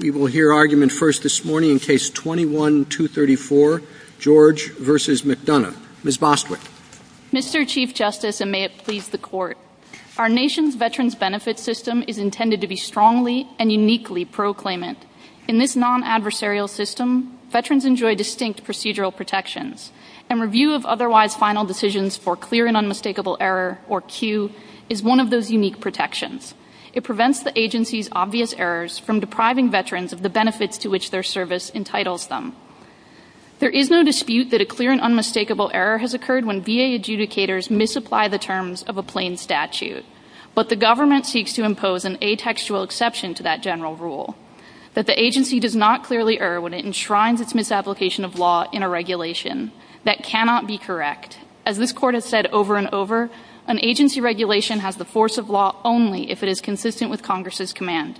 We will hear argument first this morning in case 21-234, George v. McDonough. Ms. Bostwick. Mr. Chief Justice, and may it please the Court, our nation's Veterans Benefit System is intended to be strongly and uniquely proclaimant. In this non-adversarial system, Veterans enjoy distinct procedural protections, and review of otherwise final decisions for clear and unmistakable error, or CUE, is one of those unique protections. It prevents the agency's obvious errors from depriving Veterans of the benefits to which their service entitles them. There is no dispute that a clear and unmistakable error has occurred when VA adjudicators misapply the terms of a plain statute, but the government seeks to impose an atextual exception to that general rule. But the agency does not clearly err when it enshrines its misapplication of law in a regulation. That cannot be correct. As this Court has said over and over, an agency regulation has the force of law only if it is consistent with Congress's commands.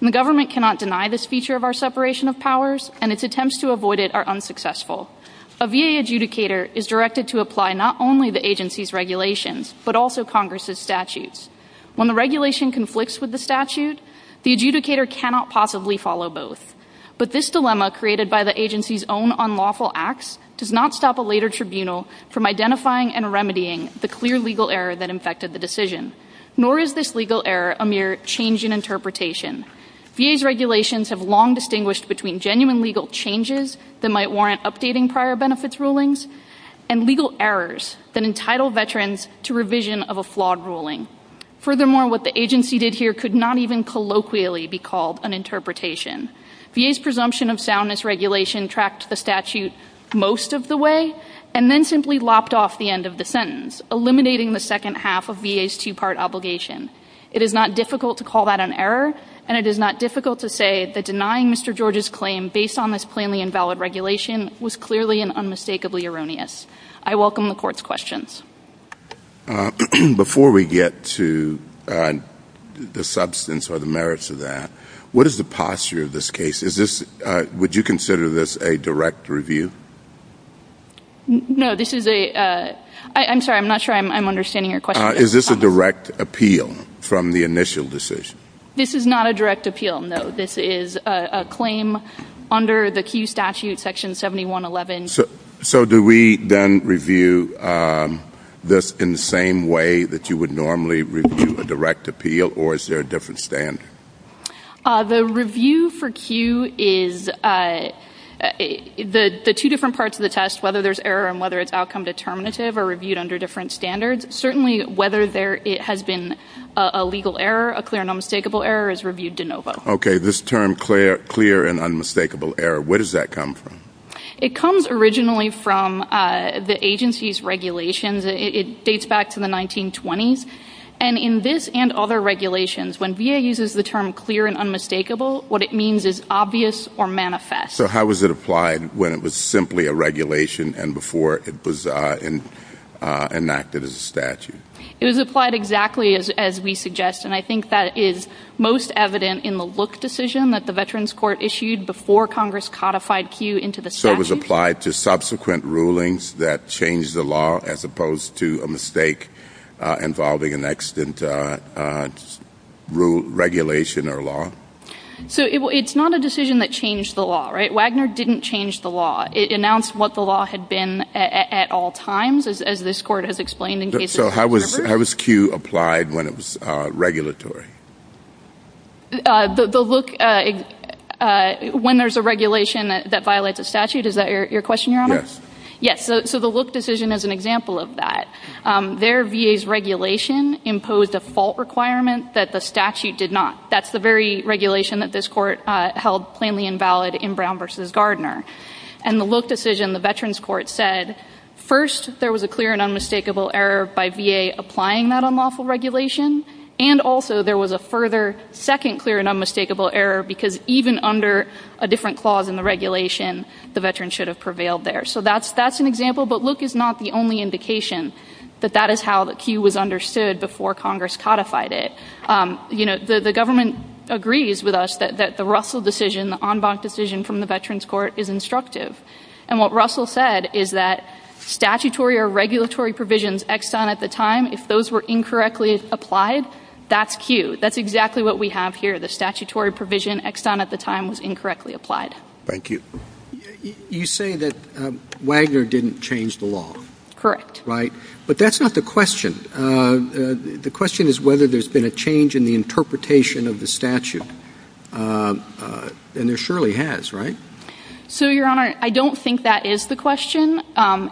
The government cannot deny this feature of our separation of powers, and its attempts to avoid it are unsuccessful. A VA adjudicator is directed to apply not only the agency's regulations, but also Congress's statutes. When the regulation conflicts with the statute, the adjudicator cannot possibly follow both. But this dilemma created by the agency's own unlawful acts does not stop a later tribunal from identifying and remedying the clear legal error that infected the decision. Nor is this legal error a mere change in interpretation. VA's regulations have long distinguished between genuine legal changes that might warrant updating prior benefits rulings, and legal errors that entitle Veterans to revision of a flawed ruling. Furthermore, what the agency did here could not even colloquially be called an interpretation. VA's presumption of soundness regulation tracked the statute most of the way, and then simply lopped off the end of the sentence, eliminating the second half of VA's two-part obligation. It is not difficult to call that an error, and it is not difficult to say that denying Mr. George's claim based on this plainly invalid regulation was clearly and unmistakably erroneous. I welcome the Court's questions. Before we get to the substance or the merits of that, what is the posture of this case? Is this, would you consider this a direct review? No, this is a, I'm sorry, I'm not sure I'm understanding your question. Is this a direct appeal from the initial decision? This is not a direct appeal, no. This is a claim under the key statute, Section 7111. So do we then review this in the same way that you would normally review a direct appeal, or is there a different standard? The review for Q is, the two different parts of the test, whether there's error and whether it's outcome determinative are reviewed under different standards. Certainly whether there has been a legal error, a clear and unmistakable error, is reviewed de novo. Okay, this term clear and unmistakable error, where does that come from? It comes originally from the agency's regulations. It dates back to the 1920s, and in this and other regulations, when VA uses the term clear and unmistakable, what it means is obvious or manifest. So how was it applied when it was simply a regulation and before it was enacted as a statute? It was applied exactly as we suggest, and I think that is most evident in the look decision that the Veterans Court issued before Congress codified Q into the statute. So it was applied to subsequent rulings that changed the law, as opposed to a mistake involving an extant regulation or law? So it's not a decision that changed the law, right? Wagner didn't change the law. It announced what the law had been at all times, as this Court has explained in cases before. So how was Q applied when it was regulatory? The look, when there's a regulation that violates a statute, is that your question, Your Honor? Yes. Yes, so the look decision is an example of that. There VA's regulation imposed a fault requirement that the statute did not. That's the very regulation that this Court held plainly invalid in Brown v. Gardner. And the look decision, the Veterans Court said, first there was a clear and unmistakable error by VA applying that unlawful regulation, and also there was a further second clear and unmistakable error because even under a different clause in the regulation, the Veterans should have prevailed there. So that's an example. But look is not the only indication that that is how the Q was understood before Congress codified it. You know, the government agrees with us that the Russell decision, the en banc decision from the Veterans Court, is instructive. And what Russell said is that statutory or regulatory provisions extant at the time, if those were incorrectly applied, that's Q. That's exactly what we have here. The statutory provision extant at the time was incorrectly applied. Thank you. You say that Wagner didn't change the law. Correct. Right? But that's not the question. The question is whether there's been a change in the interpretation of the statute. And there surely has, right? So, Your Honor, I don't think that is the question,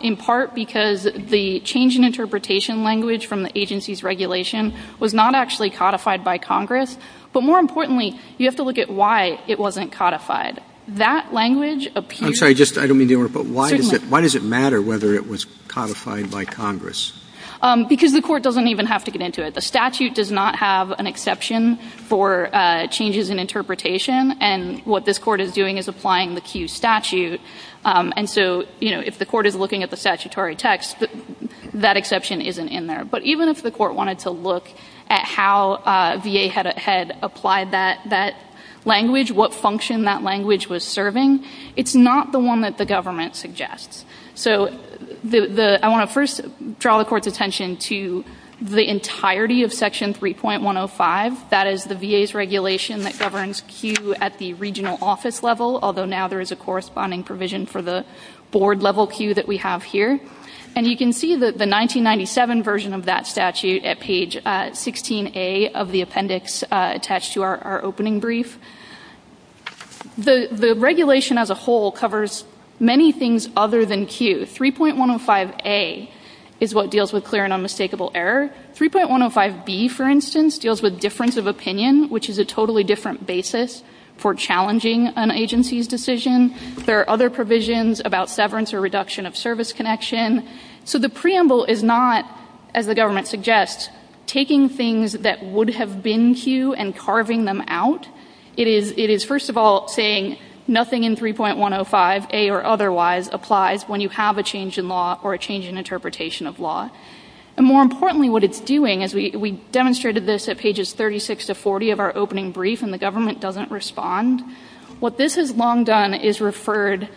in part because the change in interpretation language from the agency's regulation was not actually codified by Congress. But more importantly, you have to look at why it wasn't codified. That language appears... I'm sorry, I don't mean to interrupt, but why does it matter whether it was codified by Congress? Because the court doesn't even have to get into it. The statute does not have an exception for changes in interpretation. And what this court is doing is applying the Q statute. And so if the court is looking at the statutory text, that exception isn't in there. But even if the court wanted to look at how VA had applied that language, what function that language was serving, it's not the one that the government suggests. So I want to first draw the court's attention to the entirety of Section 3.105. That is the VA's regulation that governs Q at the regional office level, although now there is a corresponding provision for the board-level Q that we have here. And you can see the 1997 version of that statute at page 16A of the appendix attached to our opening brief. The regulation as a whole covers many things other than Q. 3.105A is what deals with clear and unmistakable error. 3.105B, for instance, deals with difference of opinion, which is a totally different basis for challenging an agency's decision. There are other provisions about severance or reduction of service connection. So the preamble is not, as the government suggests, taking things that would have been Q and carving them out. It is, first of all, saying nothing in 3.105A or otherwise applies when you have a change in law or a change in interpretation of law. More importantly, what it is doing, as we demonstrated this at pages 36 to 40 of our opening brief, and the government doesn't respond, what this has long done is referred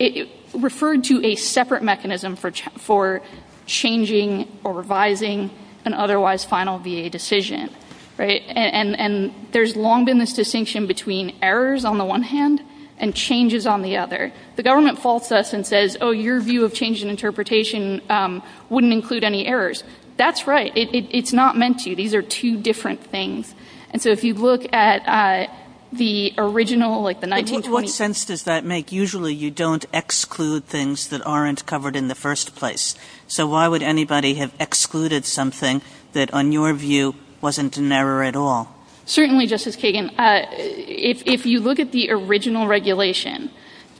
to a separate mechanism for changing or revising an otherwise final VA decision. There has long been this distinction between errors on the one hand and changes on the other. The government faults us and says, oh, your view of change in interpretation wouldn't include any errors. That's right. It's not meant to. These are two different things. So if you look at the original, like the 1920s. What sense does that make? Usually you don't exclude things that aren't covered in the first place. So why would anybody have excluded something that, on your view, wasn't an error at all? Certainly, Justice Kagan, if you look at the original regulation,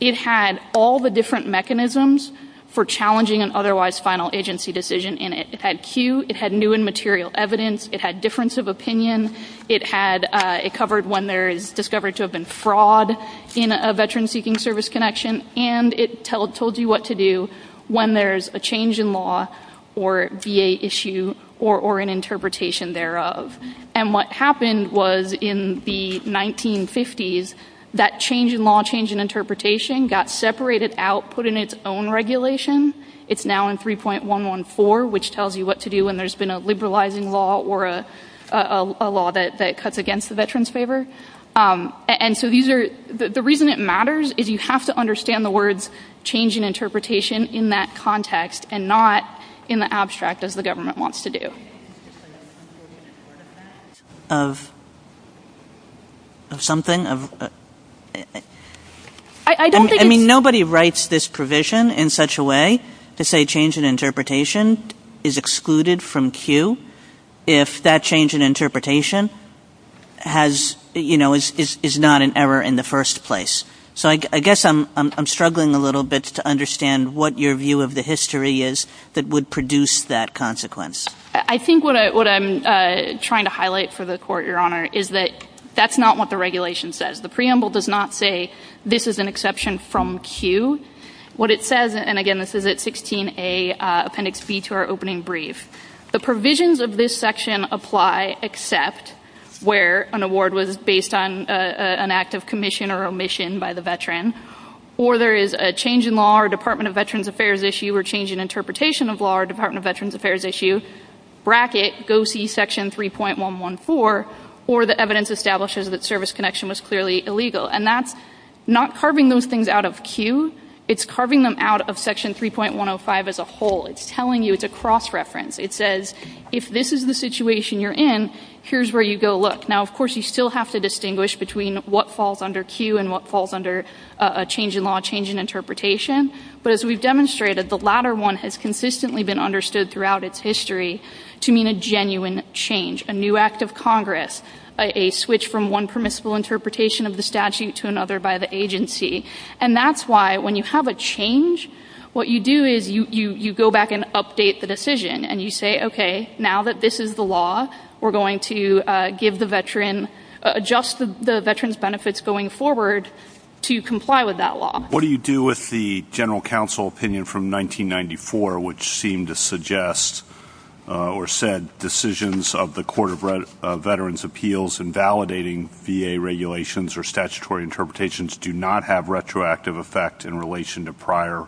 it had all the different mechanisms for challenging an otherwise final agency decision in it. It had cue. It had new and material evidence. It had difference of opinion. It covered when there is discovery to have been fraud in a veteran-seeking service connection, and it told you what to do when there's a change in law or VA issue or an interpretation thereof. And what happened was, in the 1950s, that change in law, change in interpretation, got separated out, put in its own regulation. It's now in 3.114, which tells you what to do when there's been a liberalizing law or a law that cuts against the veterans' favor. And so the reason it matters is you have to understand the words change in interpretation in that context and not in the abstract, as the government wants to do. Of something? I mean, nobody writes this provision in such a way to say change in interpretation is excluded from cue if that change in interpretation has, you know, is not an error in the first place. So I guess I'm struggling a little bit to understand what your view of the history is that would produce that consequence. I think what I'm trying to highlight for the Court, Your Honor, is that that's not what the regulation says. The preamble does not say this is an exception from cue. What it says, and again, this is at 16A Appendix B to our opening brief, the provisions of this section apply except where an award was based on an act of commission or omission by the veteran, or there is a change in law or Department of Veterans Affairs issue or change in interpretation of law or Department of Veterans Affairs issue, bracket, go see Section 3.114, or the evidence establishes that service connection was clearly illegal. And that's not carving those things out of cue. It's carving them out of Section 3.105 as a whole. It's telling you it's a cross-reference. It says if this is the situation you're in, here's where you go look. Now, of course, you still have to distinguish between what falls under cue and what falls under a change in law, change in interpretation. But as we've demonstrated, the latter one has consistently been understood throughout its history to mean a genuine change, a new act of Congress, a switch from one permissible interpretation of the statute to another by the agency. And that's why when you have a change, what you do is you go back and update the decision, and you say, okay, now that this is the law, we're going to give the veteran, adjust the veteran's benefits going forward to comply with that law. What do you do with the General Counsel opinion from 1994 which seemed to suggest or said decisions of the Court of Veterans' Appeals invalidating VA regulations or statutory interpretations do not have retroactive effect in relation to prior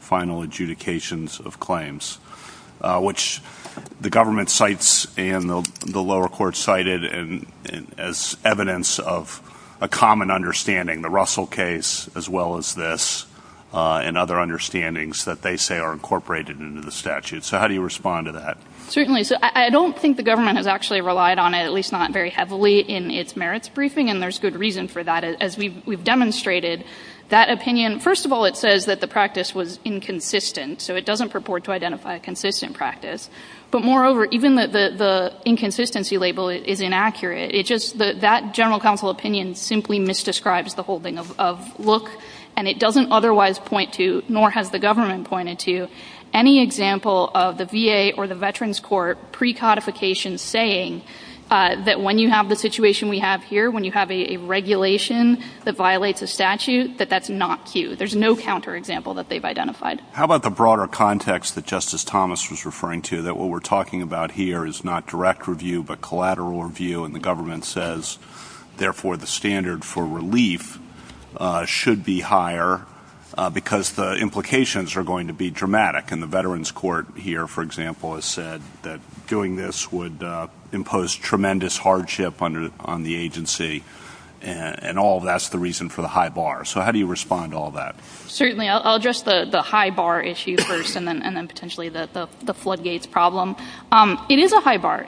final adjudications of claims, which the government cites and the lower court cited as evidence of a common understanding, the Russell case as well as this and other understandings that they say are incorporated into the statute. So how do you respond to that? Certainly. I don't think the government has actually relied on it, at least not very heavily, in its merits briefing, and there's good reason for that. As we've demonstrated, that opinion, first of all, it says that the practice was inconsistent, so it doesn't purport to identify a consistent practice. But moreover, even the inconsistency label is inaccurate. That General Counsel opinion simply misdescribes the whole thing of look, and it doesn't otherwise point to, nor has the government pointed to, any example of the VA or the veterans court precodification saying that when you have the situation we have here, when you have a regulation that violates a statute, that that's not true. There's no counterexample that they've identified. How about the broader context that Justice Thomas was referring to, that what we're talking about here is not direct review but collateral review, and the government says, therefore, the standard for relief should be higher because the implications are going to be dramatic. And the veterans court here, for example, has said that doing this would impose tremendous hardship on the agency, and all of that's the reason for the high bar. So how do you respond to all that? Certainly. I'll address the high bar issue first and then potentially the floodgates problem. It is a high bar.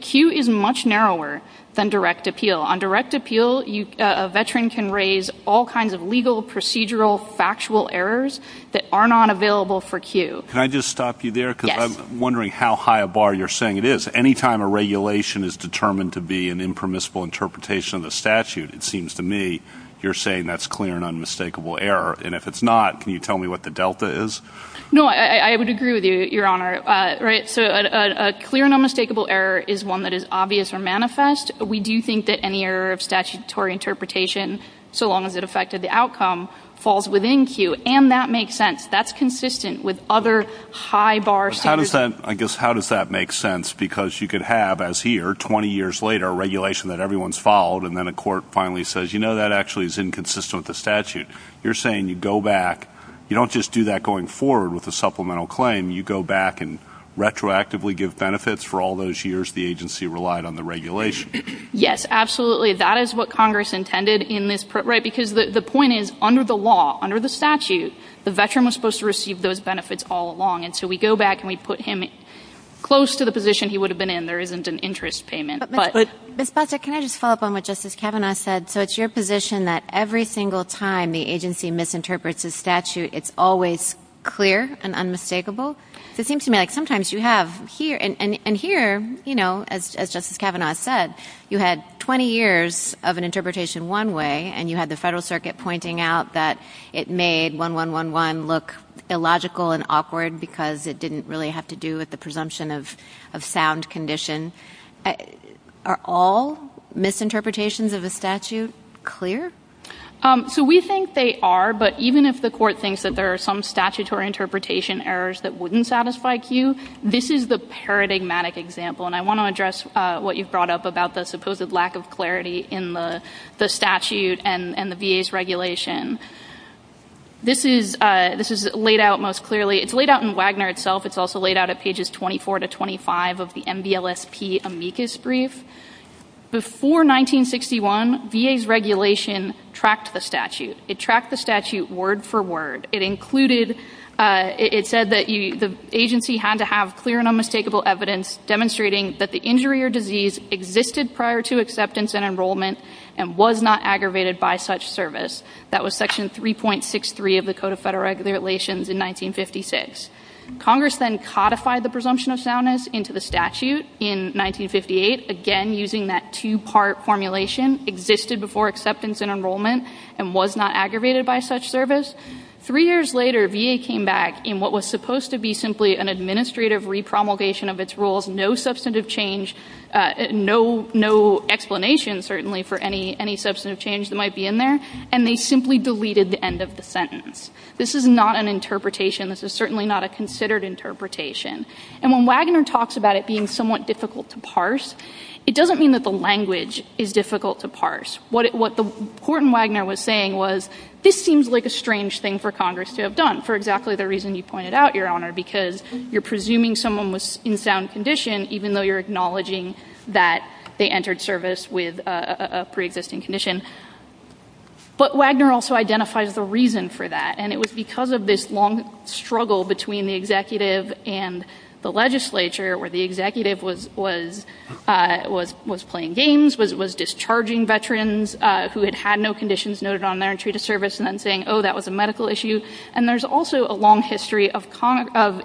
Q is much narrower than direct appeal. On direct appeal, a veteran can raise all kinds of legal, procedural, factual errors that are not available for Q. Can I just stop you there? Yes. Because I'm wondering how high a bar you're saying it is. Anytime a regulation is determined to be an impermissible interpretation of the statute, it seems to me you're saying that's clear and unmistakable error, and if it's not, can you tell me what the delta is? No, I would agree with you, Your Honor. A clear and unmistakable error is one that is obvious or manifest. We do think that any error of statutory interpretation, so long as it affected the outcome, falls within Q, and that makes sense. That's consistent with other high bar statutes. How does that make sense? Because you could have, as here, 20 years later, a regulation that everyone's followed, and then a court finally says, you know, that actually is inconsistent with the statute. You're saying you go back. You don't just do that going forward with a supplemental claim. You go back and retroactively give benefits. For all those years, the agency relied on the regulation. Yes, absolutely. That is what Congress intended in this. Right, because the point is, under the law, under the statute, the veteran was supposed to receive those benefits all along, and so we go back and we put him close to the position he would have been in. There isn't an interest payment. Ms. Plata, can I just follow up on what Justice Kavanaugh said? So it's your position that every single time the agency misinterprets a statute, it's always clear and unmistakable? It seems to me like sometimes you have here, and here, you know, as Justice Kavanaugh said, you had 20 years of an interpretation one way, and you had the Federal Circuit pointing out that it made 1111 look illogical and awkward because it didn't really have to do with the presumption of sound condition. Are all misinterpretations of the statute clear? So we think they are, but even if the court thinks that there are some statutory interpretation errors that wouldn't satisfy you, this is the paradigmatic example, and I want to address what you brought up about the supposed lack of clarity in the statute and the VA's regulation. This is laid out most clearly. It's laid out in Wagner itself. It's also laid out at pages 24 to 25 of the MDLSP amicus brief. Before 1961, VA's regulation tracked the statute. It tracked the statute word for word. It included, it said that the agency had to have clear and unmistakable evidence demonstrating that the injury or disease existed prior to acceptance and enrollment and was not aggravated by such service. That was Section 3.63 of the Code of Federal Regulations in 1956. Congress then codified the presumption of soundness into the statute in 1958, again using that two-part formulation, existed before acceptance and enrollment and was not aggravated by such service. Three years later, VA came back in what was supposed to be simply an administrative repromulgation of its rules, no substantive change, no explanation certainly for any substantive change that might be in there, and they simply deleted the end of the sentence. This is not an interpretation. This is certainly not a considered interpretation. And when Wagner talks about it being somewhat difficult to parse, it doesn't mean that the language is difficult to parse. What Horton Wagner was saying was this seems like a strange thing for Congress to have done for exactly the reason you pointed out, Your Honor, because you're presuming someone was in sound condition, even though you're acknowledging that they entered service with a preexisting condition. But Wagner also identifies the reason for that, and it was because of this long struggle between the executive and the legislature where the executive was playing games, was discharging veterans who had had no conditions noted on their entry to service and then saying, oh, that was a medical issue. And there's also a long history of the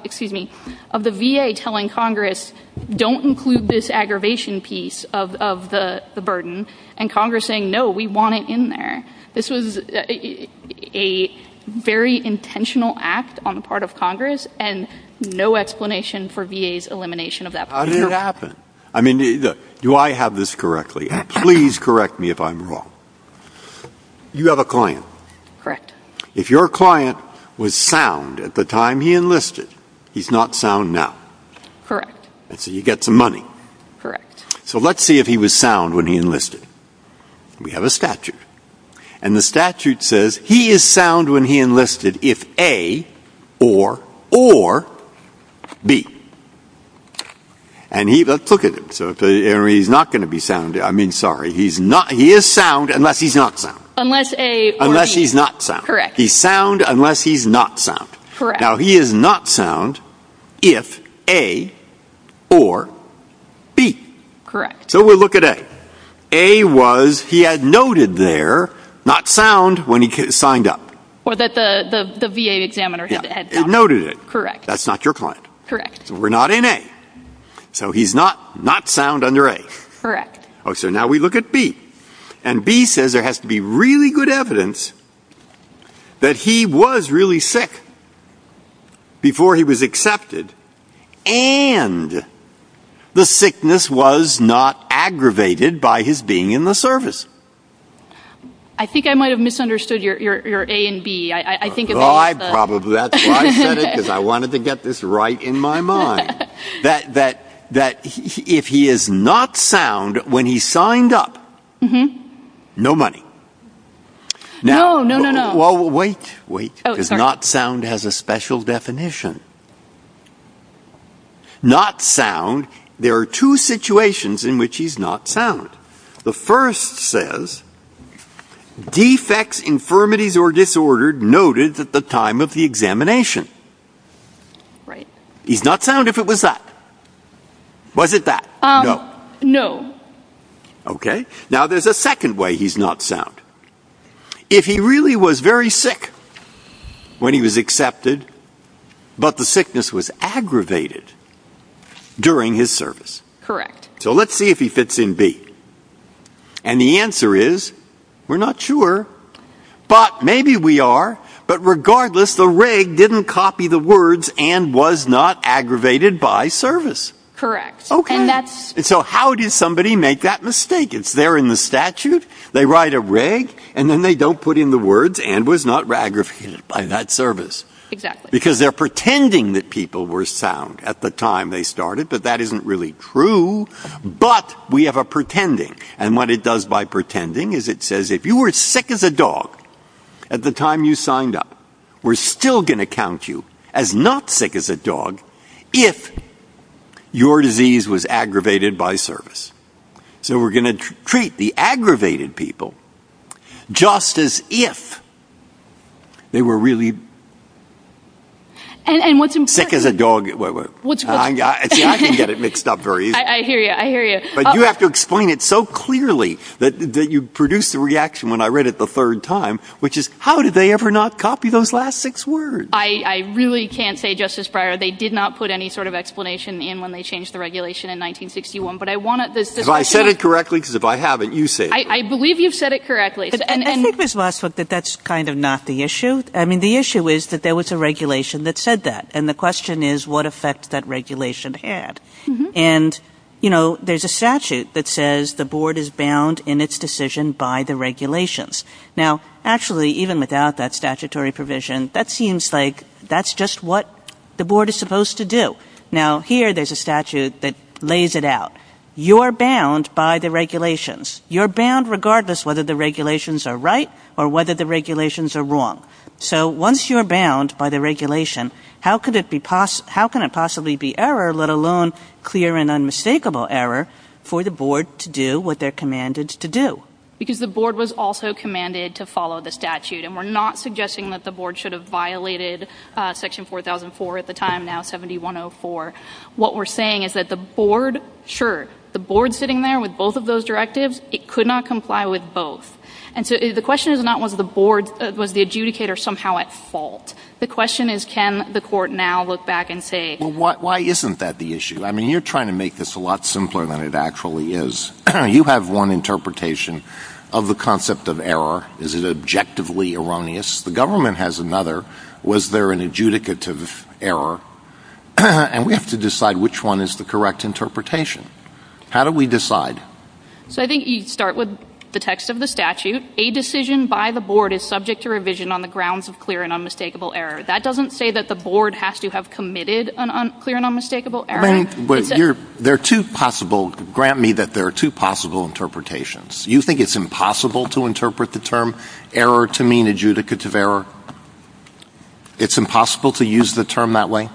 VA telling Congress, don't include this aggravation piece of the burden, and Congress saying, no, we want it in there. This was a very intentional act on the part of Congress and no explanation for VA's elimination of that part. How did it happen? I mean, do I have this correctly? And please correct me if I'm wrong. You have a client. Correct. If your client was sound at the time he enlisted, he's not sound now. Correct. So you get some money. Correct. So let's see if he was sound when he enlisted. We have a statute. And the statute says he is sound when he enlisted if A or B. And let's look at it. So he's not going to be sound. I mean, sorry. He is sound unless he's not sound. Unless A or B. Unless he's not sound. Correct. He's sound unless he's not sound. Correct. Now, he is not sound if A or B. Correct. So we'll look at A. A was he had noted there not sound when he signed up. Or that the VA examiner had noted it. Correct. That's not your client. Correct. We're not in A. So he's not sound under A. Correct. So now we look at B. And B says there has to be really good evidence that he was really sick before he was accepted and the sickness was not aggravated by his being in the service. I think I might have misunderstood your A and B. I think it was the... Oh, I probably... That's why I said it because I wanted to get this right in my mind. That if he is not sound when he signed up, no money. No, no, no, no. Wait. Not sound has a special definition. Not sound, there are two situations in which he's not sound. The first says defects, infirmities, or disorder noted at the time of the examination. Right. He's not sound if it was that. Was it that? No. Okay. Now, there's a second way he's not sound. If he really was very sick when he was accepted, but the sickness was aggravated during his service. Correct. So let's see if he fits in B. And the answer is, we're not sure. But maybe we are. But regardless, the reg didn't copy the words and was not aggravated by service. Correct. And that's... So how did somebody make that mistake? It's there in the statute. They write a reg, and then they don't put in the words and was not aggravated by that service. Exactly. Because they're pretending that people were sound at the time they started. But that isn't really true. But we have a pretending. And what it does by pretending is it says, if you were sick as a dog at the time you signed up, we're still going to count you as not sick as a dog if your disease was aggravated by service. So we're going to treat the aggravated people just as if they were really sick as a dog. And what's important... Wait, wait. I can get it mixed up very easily. I hear you. But you have to explain it so clearly that you produce the reaction when I read it the third time, which is, how did they ever not copy those last six words? I really can't say, Justice Breyer. They did not put any sort of explanation in when they changed the regulation in 1961. Have I said it correctly? Because if I haven't, you say it. I believe you've said it correctly. I think it's possible that that's kind of not the issue. I mean, the issue is that there was a regulation that said that. And the question is, what effect that regulation had. And, you know, there's a statute that says the board is bound in its decision by the regulations. Now, actually, even without that statutory provision, that seems like that's just what the board is supposed to do. Now, here there's a statute that lays it out. You're bound by the regulations. You're bound regardless whether the regulations are right or whether the regulations are wrong. So once you're bound by the regulation, how can it possibly be error, let alone clear and unmistakable error, for the board to do what they're commanded to do? Because the board was also commanded to follow the statute. And we're not suggesting that the board should have violated Section 4004 at the time, now 7104. What we're saying is that the board, sure, the board sitting there with both of those directives, it could not comply with both. And so the question is not was the board, was the adjudicator somehow at fault. The question is can the court now look back and say. Well, why isn't that the issue? I mean, you're trying to make this a lot simpler than it actually is. You have one interpretation of the concept of error. Is it objectively erroneous? The government has another. Was there an adjudicative error? And we have to decide which one is the correct interpretation. How do we decide? So I think you start with the text of the statute. A decision by the board is subject to revision on the grounds of clear and unmistakable error. That doesn't say that the board has to have committed clear and unmistakable error. But there are two possible, grant me that there are two possible interpretations. Do you think it's impossible to interpret the term error to mean adjudicative error? It's impossible to use the term that way?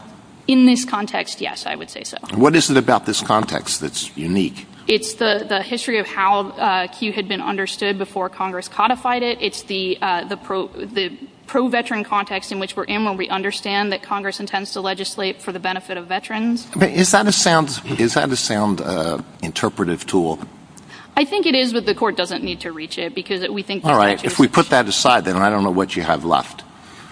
In this context, yes, I would say so. What is it about this context that's unique? It's the history of how Q had been understood before Congress codified it. It's the pro-veteran context in which we're in when we understand that Congress intends to legislate for the benefit of veterans. Is that a sound interpretive tool? I think it is, but the court doesn't need to reach it. All right, if we put that aside, then, I don't know what you have left.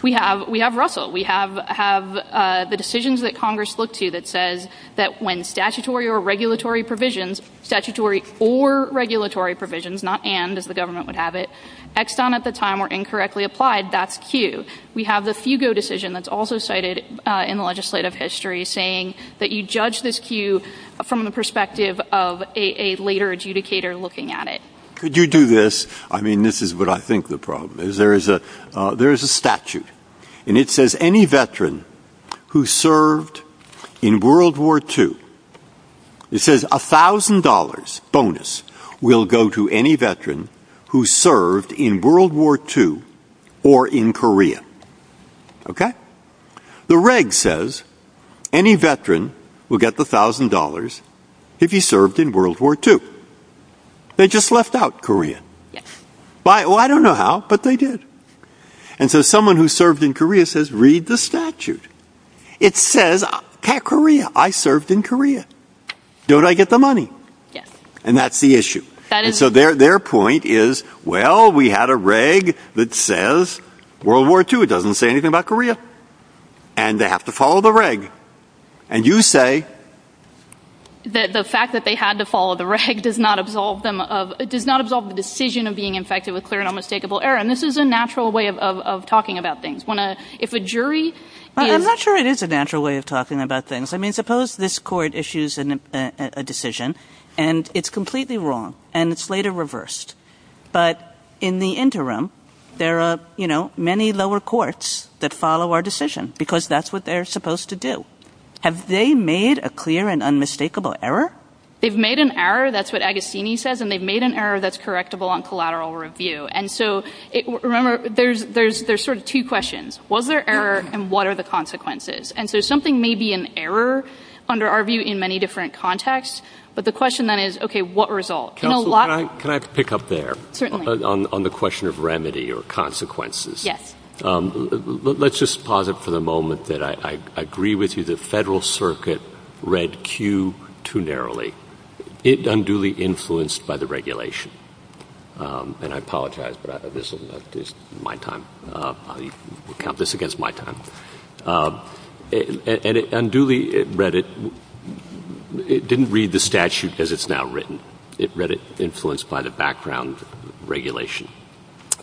We have Russell. We have the decisions that Congress looked to that says that when statutory or regulatory provisions, statutory or regulatory provisions, not and, as the government would have it, X'd on at the time or incorrectly applied, that's Q. We have the Fugo decision that's also cited in the legislative history saying that you judge this Q from the perspective of a later adjudicator looking at it. Could you do this? I mean, this is what I think the problem is. There is a statute, and it says any veteran who served in World War II, it says $1,000 bonus will go to any veteran who served in World War II or in Korea, okay? The reg says any veteran will get the $1,000 if he served in World War II. They just left out Korea. Well, I don't know how, but they did. And so someone who served in Korea says read the statute. It says Korea. I served in Korea. Don't I get the money? And that's the issue. And so their point is, well, we had a reg that says World War II. It doesn't say anything about Korea. And they have to follow the reg. And you say. The fact that they had to follow the reg does not absolve them of, does not absolve the decision of being infected with clear and unmistakable error. And this is a natural way of talking about things. If a jury. I'm not sure it is a natural way of talking about things. I mean, suppose this court issues a decision. And it's completely wrong. And it's later reversed. But in the interim, there are many lower courts that follow our decision. Because that's what they're supposed to do. Have they made a clear and unmistakable error? They've made an error. That's what Agostini says. And they've made an error that's correctable on collateral review. And so, remember, there's sort of two questions. Was there error? And what are the consequences? And so something may be an error under our view in many different contexts. But the question then is, okay, what results? Can I pick up there? Certainly. On the question of remedy or consequences. Yes. Let's just pause it for the moment that I agree with you. The Federal Circuit read Q too narrowly. I'm duly influenced by the regulation. And I apologize. But this is my time. I'll count this against my time. And it unduly read it. It didn't read the statute as it's now written. It read it influenced by the background regulation.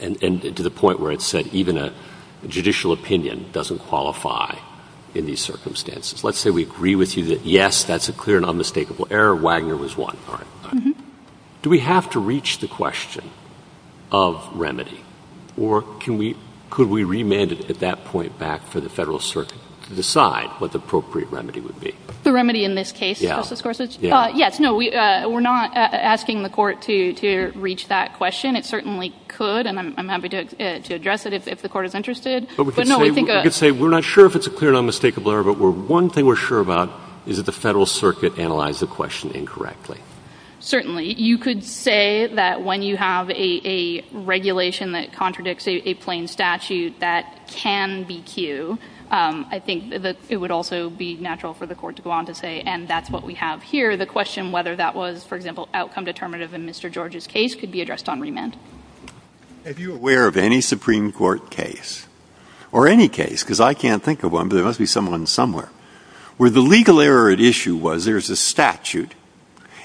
And to the point where it said even a judicial opinion doesn't qualify in these circumstances. Let's say we agree with you that, yes, that's a clear and unmistakable error. Wagner was one, right? Do we have to reach the question of remedy? Or could we remand it at that point back to the Federal Circuit to decide what the appropriate remedy would be? The remedy in this case, Justice Gorsuch? Yes. No, we're not asking the court to reach that question. It certainly could. And I'm happy to address it if the court is interested. But, no, I think we could say we're not sure if it's a clear and unmistakable error. But one thing we're sure about is that the Federal Circuit analyzed the question incorrectly. Certainly. You could say that when you have a regulation that contradicts a plain statute, that can be cued. I think that it would also be natural for the court to go on to say, and that's what we have here, the question whether that was, for example, outcome determinative in Mr. George's case could be addressed on remand. Are you aware of any Supreme Court case, or any case, because I can't think of one, but there must be someone somewhere, where the legal error at issue was there's a statute,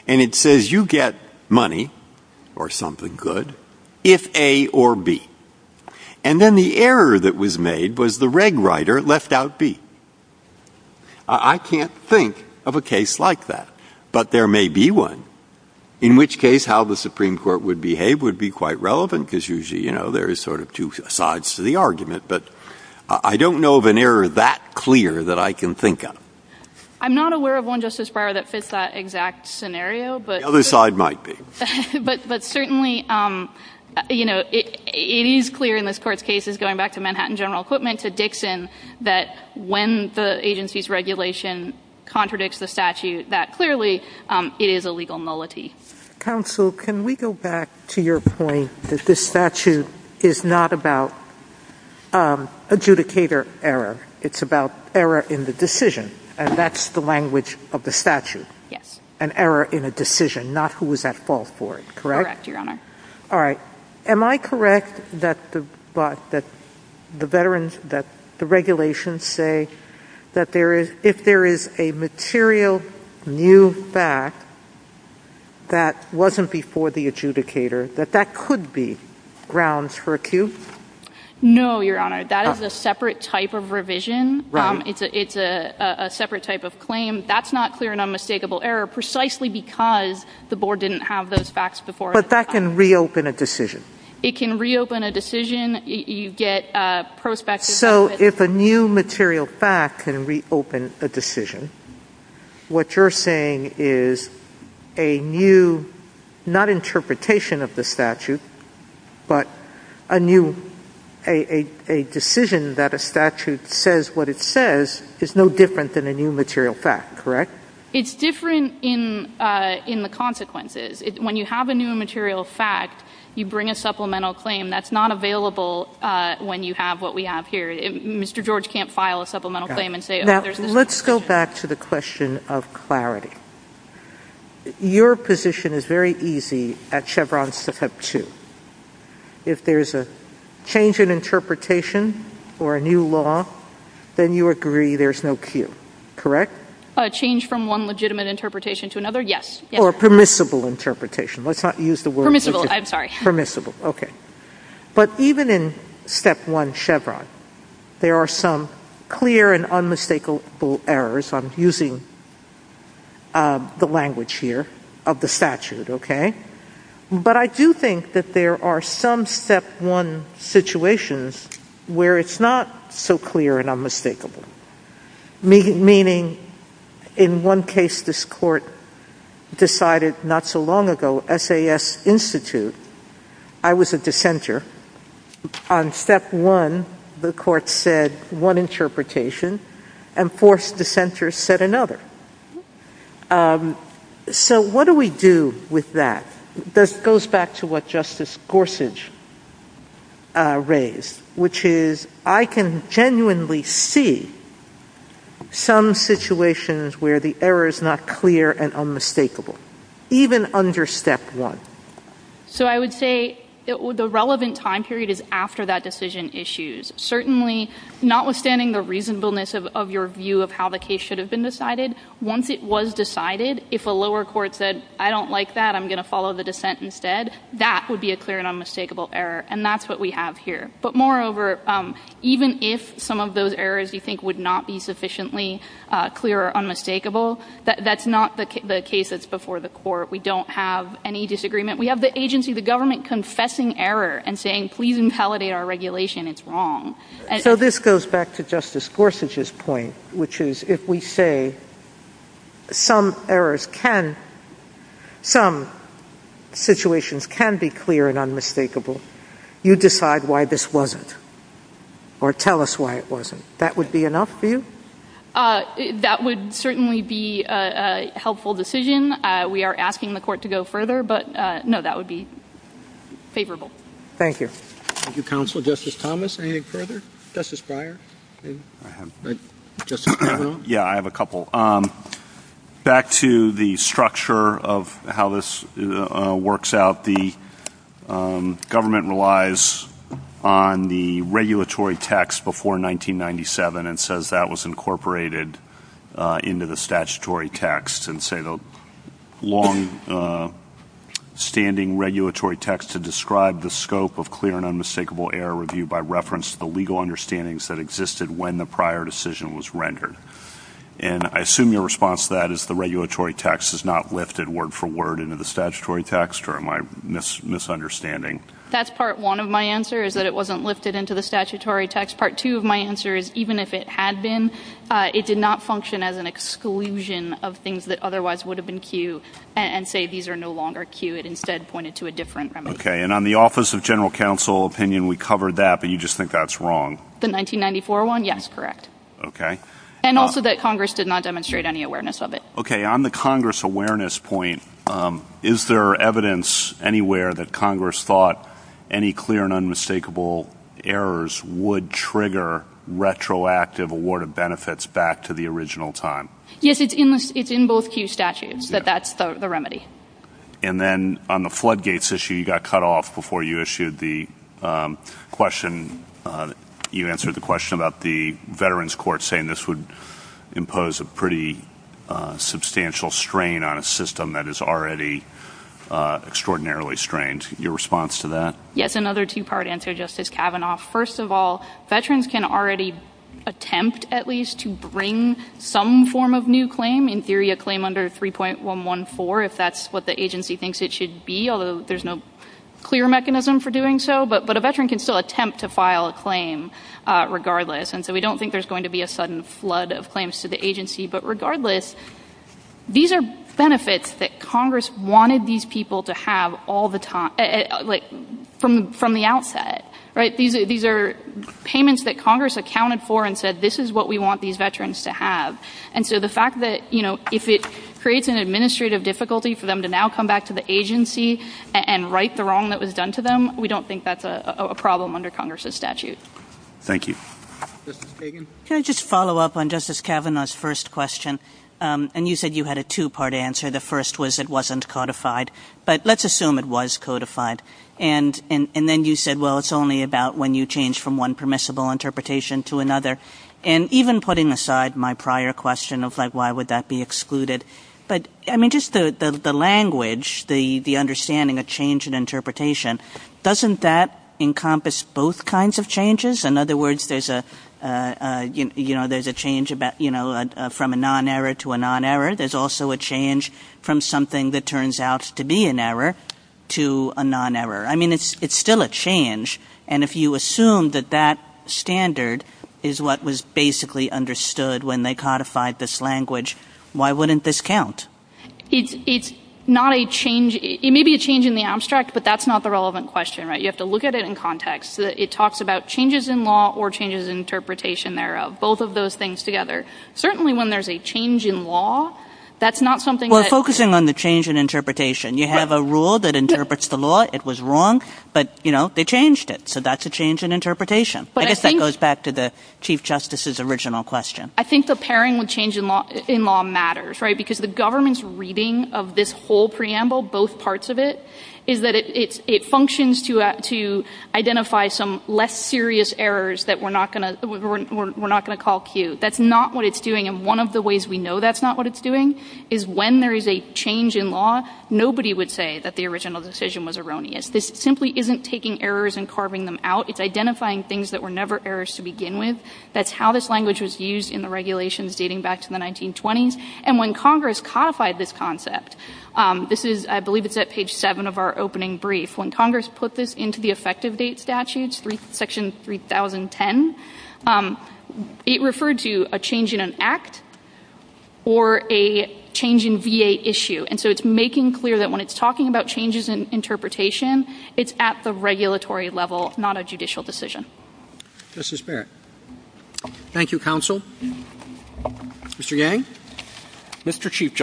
and it says you get money, or something good, if A or B. And then the error that was made was the reg writer left out B. I can't think of a case like that. But there may be one, in which case how the Supreme Court would behave would be quite relevant, because usually, you know, there is sort of two sides to the argument. But I don't know of an error that clear that I can think of. I'm not aware of one, Justice Breyer, that fits that exact scenario. The other side might be. But certainly, you know, it is clear in this court's case, going back to Manhattan General Equipment, to Dixon, that when the agency's regulation contradicts the statute that clearly it is a legal nullity. Counsel, can we go back to your point that this statute is not about adjudicator error. It's about error in the decision. And that's the language of the statute. An error in a decision, not who was at fault for it. Correct? Correct, Your Honor. All right. Am I correct that the veterans, that the regulations say that there is, if there is a material new fact that wasn't before the adjudicator, that that could be grounds for acute? No, Your Honor. That is a separate type of revision. Right. It's a separate type of claim. That's not clear and unmistakable error, precisely because the board didn't have those facts before. But that can reopen a decision. It can reopen a decision. You get prospective. So if a new material fact can reopen a decision, what you're saying is a new, not interpretation of the statute, but a new, a decision that a statute says what it says is no different than a new material fact, correct? It's different in the consequences. When you have a new material fact, you bring a supplemental claim. That's not available when you have what we have here. Mr. George can't file a supplemental claim and say, oh, there's a new material fact. Now, let's go back to the question of clarity. Your position is very easy at Chevron Step 2. If there's a change in interpretation or a new law, then you agree there's no cue, correct? A change from one legitimate interpretation to another, yes. Or permissible interpretation. Permissible, I'm sorry. Permissible, okay. But even in Step 1 Chevron, there are some clear and unmistakable errors. I'm using the language here of the statute, okay? But I do think that there are some Step 1 situations where it's not so clear and unmistakable, meaning in one case this court decided not so long ago, SAS Institute, I was a dissenter. On Step 1, the court said one interpretation and forced dissenter said another. So what do we do with that? This goes back to what Justice Gorsuch raised, which is I can genuinely see some situations where the error is not clear and unmistakable, even under Step 1. So I would say the relevant time period is after that decision issues. Certainly, notwithstanding the reasonableness of your view of how the case should have been decided, once it was decided, if a lower court said, I don't like that, I'm going to follow the dissent instead, that would be a clear and unmistakable error. And that's what we have here. But moreover, even if some of those errors you think would not be sufficiently clear or unmistakable, that's not the case that's before the court. We don't have any disagreement. We have the agency, the government, confessing error and saying, please intallate our regulation. It's wrong. So this goes back to Justice Gorsuch's point, which is if we say some errors can be clear and unmistakable, you decide why this wasn't or tell us why it wasn't. That would be enough for you? That would certainly be a helpful decision. We are asking the court to go further, but, no, that would be favorable. Thank you. Thank you, Counselor. Justice Thomas, anything further? Justice Breyer? I have a couple. Back to the structure of how this works out, the government relies on the regulatory text before 1997 and says that was incorporated into the statutory text and say the longstanding regulatory text to describe the scope of clear and unmistakable error review by reference to the legal understandings that existed when the prior decision was rendered. And I assume your response to that is the regulatory text is not lifted word for word into the statutory text, or am I misunderstanding? That's part one of my answer, is that it wasn't lifted into the statutory text. Part two of my answer is even if it had been, it did not function as an exclusion of things that otherwise would have been cued and say these are no longer cued. Instead, it pointed to a different premise. Okay. And on the Office of General Counsel opinion, we covered that, but you just think that's wrong. The 1994 one? Yes, correct. Okay. And also that Congress did not demonstrate any awareness of it. Okay. On the Congress awareness point, is there evidence anywhere that Congress thought any clear and unmistakable errors would trigger retroactive award of benefits back to the original time? Yes, it's in both cue statutes, but that's the remedy. And then on the floodgates issue, you got cut off before you issued the question. You answered the question about the Veterans Court saying this would impose a pretty substantial strain on a system that is already extraordinarily strained. Your response to that? Yes, another two-part answer, Justice Kavanaugh. First of all, veterans can already attempt at least to bring some form of new claim, in theory a claim under 3.114 if that's what the agency thinks it should be, although there's no clear mechanism for doing so. But a veteran can still attempt to file a claim regardless, and so we don't think there's going to be a sudden flood of claims to the agency. But regardless, these are benefits that Congress wanted these people to have all the time, from the outset, right? These are payments that Congress accounted for and said, this is what we want these veterans to have. And so the fact that, you know, if it creates an administrative difficulty for them to now come back to the agency and right the wrong that was done to them, we don't think that's a problem under Congress's statute. Thank you. Justice Kagan? Can I just follow up on Justice Kavanaugh's first question? And you said you had a two-part answer. The first was it wasn't codified, but let's assume it was codified. And then you said, well, it's only about when you change from one permissible interpretation to another. And even putting aside my prior question of, like, why would that be excluded, but, I mean, just the language, the understanding of change in interpretation, doesn't that encompass both kinds of changes? In other words, there's a change from a non-error to a non-error. There's also a change from something that turns out to be an error to a non-error. I mean, it's still a change. And if you assume that that standard is what was basically understood when they codified this language, why wouldn't this count? It's not a change. It may be a change in the abstract, but that's not the relevant question, right? You have to look at it in context. It talks about changes in law or changes in interpretation thereof, both of those things together. Certainly when there's a change in law, that's not something that... Well, focusing on the change in interpretation, you have a rule that interprets the law. It was wrong, but, you know, they changed it. So that's a change in interpretation. I guess that goes back to the Chief Justice's original question. I think the pairing with change in law matters, right? Because the government's reading of this whole preamble, both parts of it, is that it functions to identify some less serious errors that we're not going to call Q. That's not what it's doing, and one of the ways we know that's not what it's doing is when there is a change in law, nobody would say that the original decision was erroneous. This simply isn't taking errors and carving them out. It's identifying things that were never errors to begin with. That's how this language was used in the regulations dating back to the 1920s. And when Congress codified this concept, this is, I believe it's at page 7 of our opening brief, when Congress put this into the effective date statutes, Section 3010, it referred to a change in an act or a change in VA issue. And so it's making clear that when it's talking about changes in interpretation, it's at the regulatory level, not a judicial decision. Justice Baird. Thank you, Counsel. Mr. Yang? Mr. Chief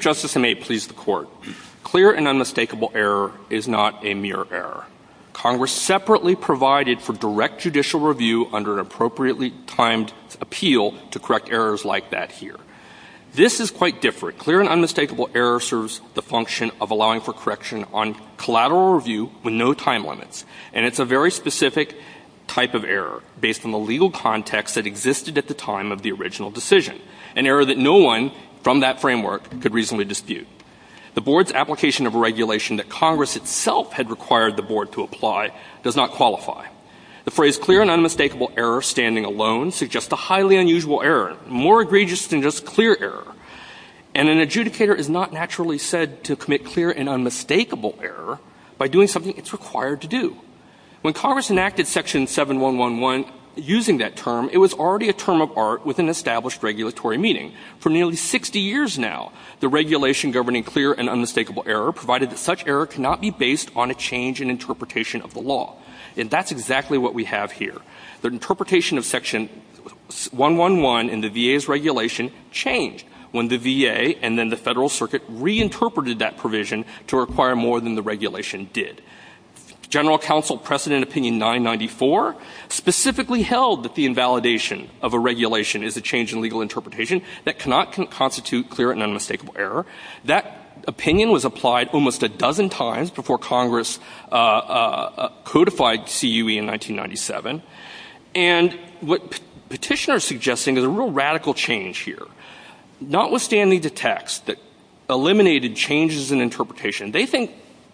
Justice, and may it please the Court, clear and unmistakable error is not a mere error. Congress separately provided for direct judicial review under an appropriately timed appeal to correct errors like that here. This is quite different. Clear and unmistakable error serves the function of allowing for correction on collateral review with no time limits. And it's a very specific type of error based on the legal context that existed at the time of the original decision, an error that no one from that framework could reasonably dispute. The Board's application of a regulation that Congress itself had required the Board to apply does not qualify. The phrase clear and unmistakable error standing alone suggests a highly unusual error, more egregious than just clear error. And an adjudicator is not naturally said to commit clear and unmistakable error by doing something it's required to do. When Congress enacted Section 7111 using that term, it was already a term of art with an established regulatory meaning. For nearly 60 years now, the regulation governing clear and unmistakable error provided that such error cannot be based on a change in interpretation of the law. And that's exactly what we have here. The interpretation of Section 111 in the VA's regulation changed when the VA and then the Federal Circuit reinterpreted that provision to require more than the regulation did. General Counsel Precedent Opinion 994 specifically held that the invalidation of a regulation is a change in legal interpretation that cannot constitute clear and unmistakable error. That opinion was applied almost a dozen times before Congress codified CUE in 1997. And what petitioners are suggesting is a real radical change here. Notwithstanding the text that eliminated changes in interpretation, they think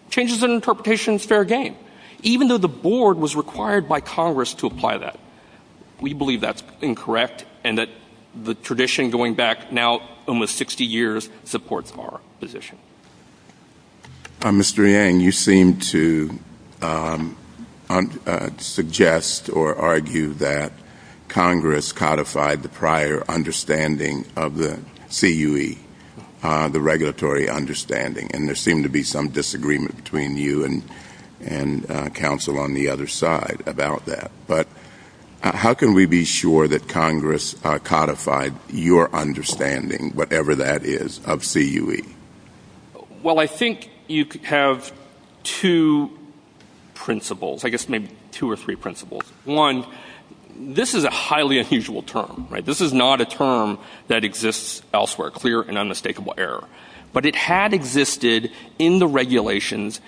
changes in interpretation is fair game, even though the Board was required by Congress to apply that. We believe that's incorrect and that the tradition going back now almost 60 years supports our position. Mr. Yang, you seem to suggest or argue that Congress codified the prior understanding of the CUE, the regulatory understanding. And there seemed to be some disagreement between you and counsel on the other side about that. But how can we be sure that Congress codified your understanding, whatever that is, of CUE? Well, I think you have two principles, I guess maybe two or three principles. One, this is a highly unusual term, right? This is not a term that exists elsewhere, clear and unmistakable error. But it had existed in the regulations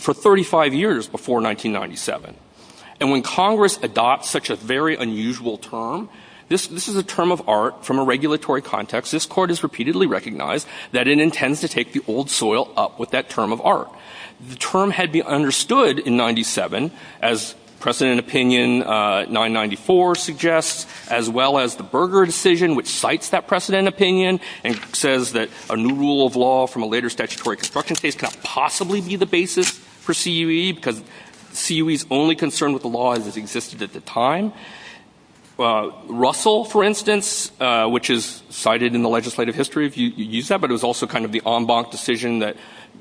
for 35 years before 1997. And when Congress adopts such a very unusual term, this is a term of art from a regulatory context. This Court has repeatedly recognized that it intends to take the old soil up with that term of art. The term had been understood in 1997, as precedent opinion 994 suggests, as well as the Berger decision, which cites that precedent opinion and says that a new rule of law from a later statutory construction case cannot possibly be the basis for CUE because CUE's only concern with the law has existed at the time. Russell, for instance, which is cited in the legislative history, if you use that, but it was also kind of the en banc decision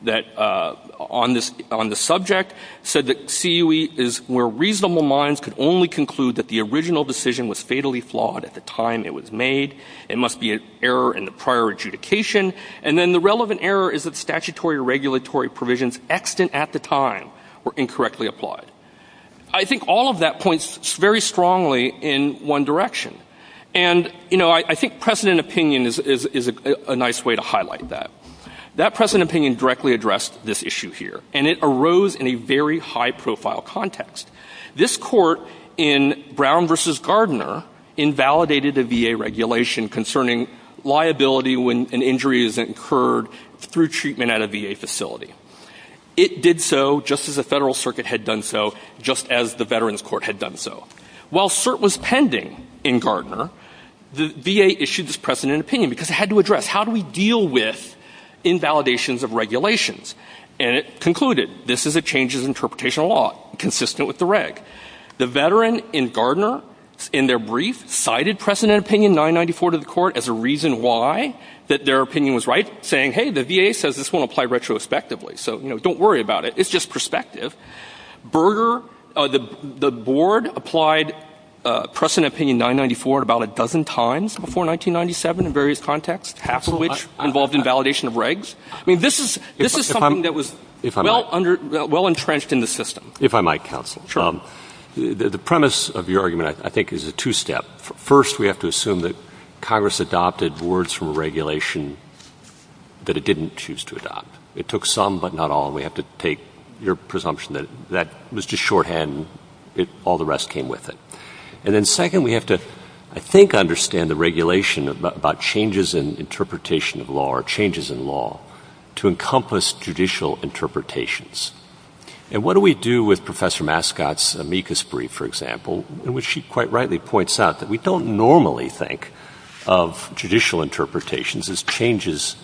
on the subject, said that CUE is where reasonable minds could only conclude that the original decision was fatally flawed at the time it was made. It must be an error in the prior adjudication. And then the relevant error is that statutory or regulatory provisions extant at the time were incorrectly applied. I think all of that points very strongly in one direction. And, you know, I think precedent opinion is a nice way to highlight that. That precedent opinion directly addressed this issue here, and it arose in a very high-profile context. This Court in Brown v. Gardner invalidated the VA regulation concerning liability when an injury is incurred through treatment at a VA facility. It did so just as the Federal Circuit had done so, just as the Veterans Court had done so. While cert was pending in Gardner, the VA issued this precedent opinion because it had to address how do we deal with invalidations of regulations? And it concluded, this is a change in the interpretation of law consistent with the reg. The veteran in Gardner, in their brief, cited precedent opinion 994 to the Court as a reason why that their opinion was right, saying, hey, the VA says this won't apply retrospectively, so don't worry about it. It's just perspective. Berger, the Board applied precedent opinion 994 about a dozen times before 1997 in various contexts, half of which involved invalidation of regs. I mean, this is something that was well entrenched in the system. If I might, counsel. The premise of your argument, I think, is a two-step. First, we have to assume that Congress adopted words from regulation that it didn't choose to adopt. It took some but not all, and we have to take your presumption that that was just shorthand and all the rest came with it. And then second, we have to, I think, understand the regulation about changes in interpretation of law or changes in law to encompass judicial interpretations. And what do we do with Professor Mascot's amicus brief, for example, in which she quite rightly points out that we don't normally think of judicial interpretations as changes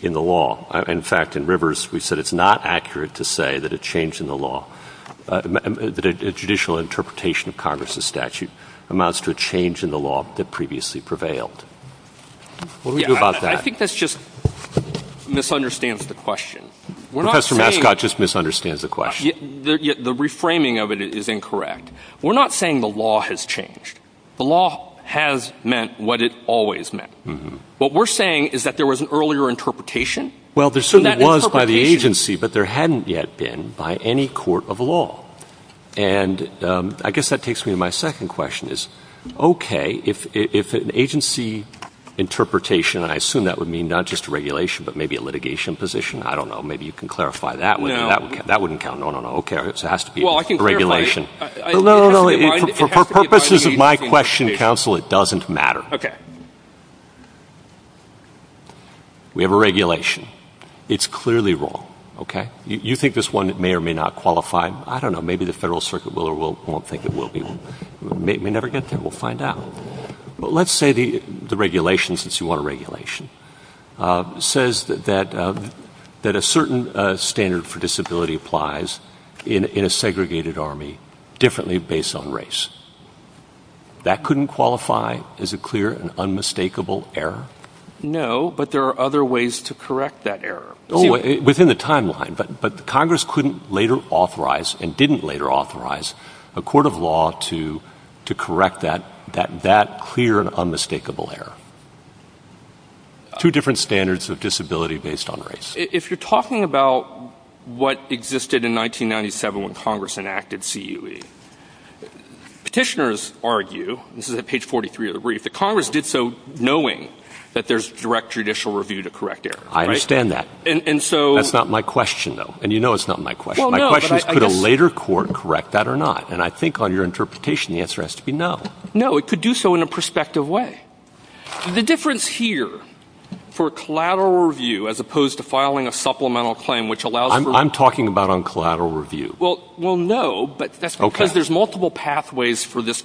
in the law. In fact, in Rivers, we said it's not accurate to say that a change in the law, a judicial interpretation of Congress's statute, amounts to a change in the law that previously prevailed. What do we do about that? I think that just misunderstands the question. Professor Mascot just misunderstands the question. The reframing of it is incorrect. We're not saying the law has changed. The law has meant what it always meant. What we're saying is that there was an earlier interpretation. Well, there certainly was by the agency, but there hadn't yet been by any court of law. And I guess that takes me to my second question, is, okay, if an agency interpretation, and I assume that would mean not just a regulation but maybe a litigation position, I don't know. Maybe you can clarify that one. That wouldn't count. No, no, no. Okay. It has to be a regulation. For purposes of my question, counsel, it doesn't matter. Okay. We have a regulation. It's clearly wrong, okay? You think this one may or may not qualify. I don't know. Maybe the Federal Circuit will or won't think it will be. It may never get there. We'll find out. But let's say the regulation, since you want a regulation, says that a certain standard for disability applies in a segregated army differently based on race. That couldn't qualify as a clear and unmistakable error? No, but there are other ways to correct that error. Oh, within the timeline. But Congress couldn't later authorize and didn't later authorize a court of law to correct that clear and unmistakable error. Two different standards of disability based on race. If you're talking about what existed in 1997 when Congress enacted CUE, petitioners argue, this is at page 43 of the brief, that Congress did so knowing that there's direct judicial review to correct errors. I understand that. That's not my question, though. And you know it's not my question. My question is, could a later court correct that or not? And I think on your interpretation, the answer has to be no. No, it could do so in a prospective way. The difference here for collateral review as opposed to filing a supplemental claim which allows for... I'm talking about on collateral review. Well, no, but that's because there's multiple pathways for this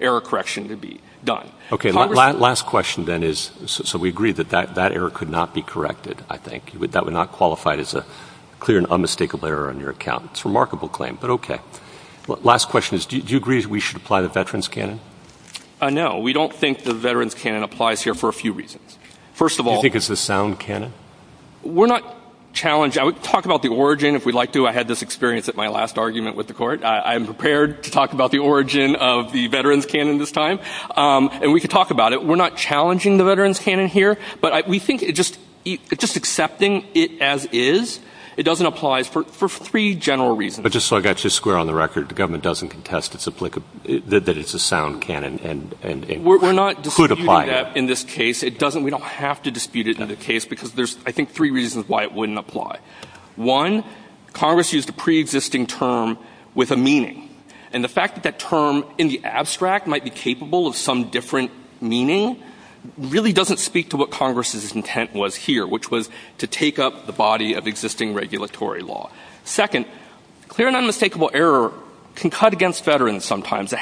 error correction to be done. Okay, last question then is, so we agree that that error could not be corrected, I think. That would not qualify as a clear and unmistakable error on your account. It's a remarkable claim, but okay. Last question is, do you agree that we should apply the Veterans' Canon? No, we don't think the Veterans' Canon applies here for a few reasons. First of all... Do you think it's a sound canon? We're not challenging... I would talk about the origin if we'd like to. I had this experience at my last argument with the court. I'm prepared to talk about the origin of the Veterans' Canon this time, and we could talk about it. We're not challenging the Veterans' Canon here, but we think just accepting it as is, it doesn't apply for three general reasons. But just so I've got you square on the record, the government doesn't contest that it's a sound canon. We're not disputing that in this case. We don't have to dispute it in another case, because there's, I think, three reasons why it wouldn't apply. One, Congress used a preexisting term with a meaning, and the fact that that term in the abstract might be capable of some different meaning really doesn't speak to what Congress's intent was here, which was to take up the body of existing regulatory law. Second, clear and unmistakable error can cut against veterans sometimes.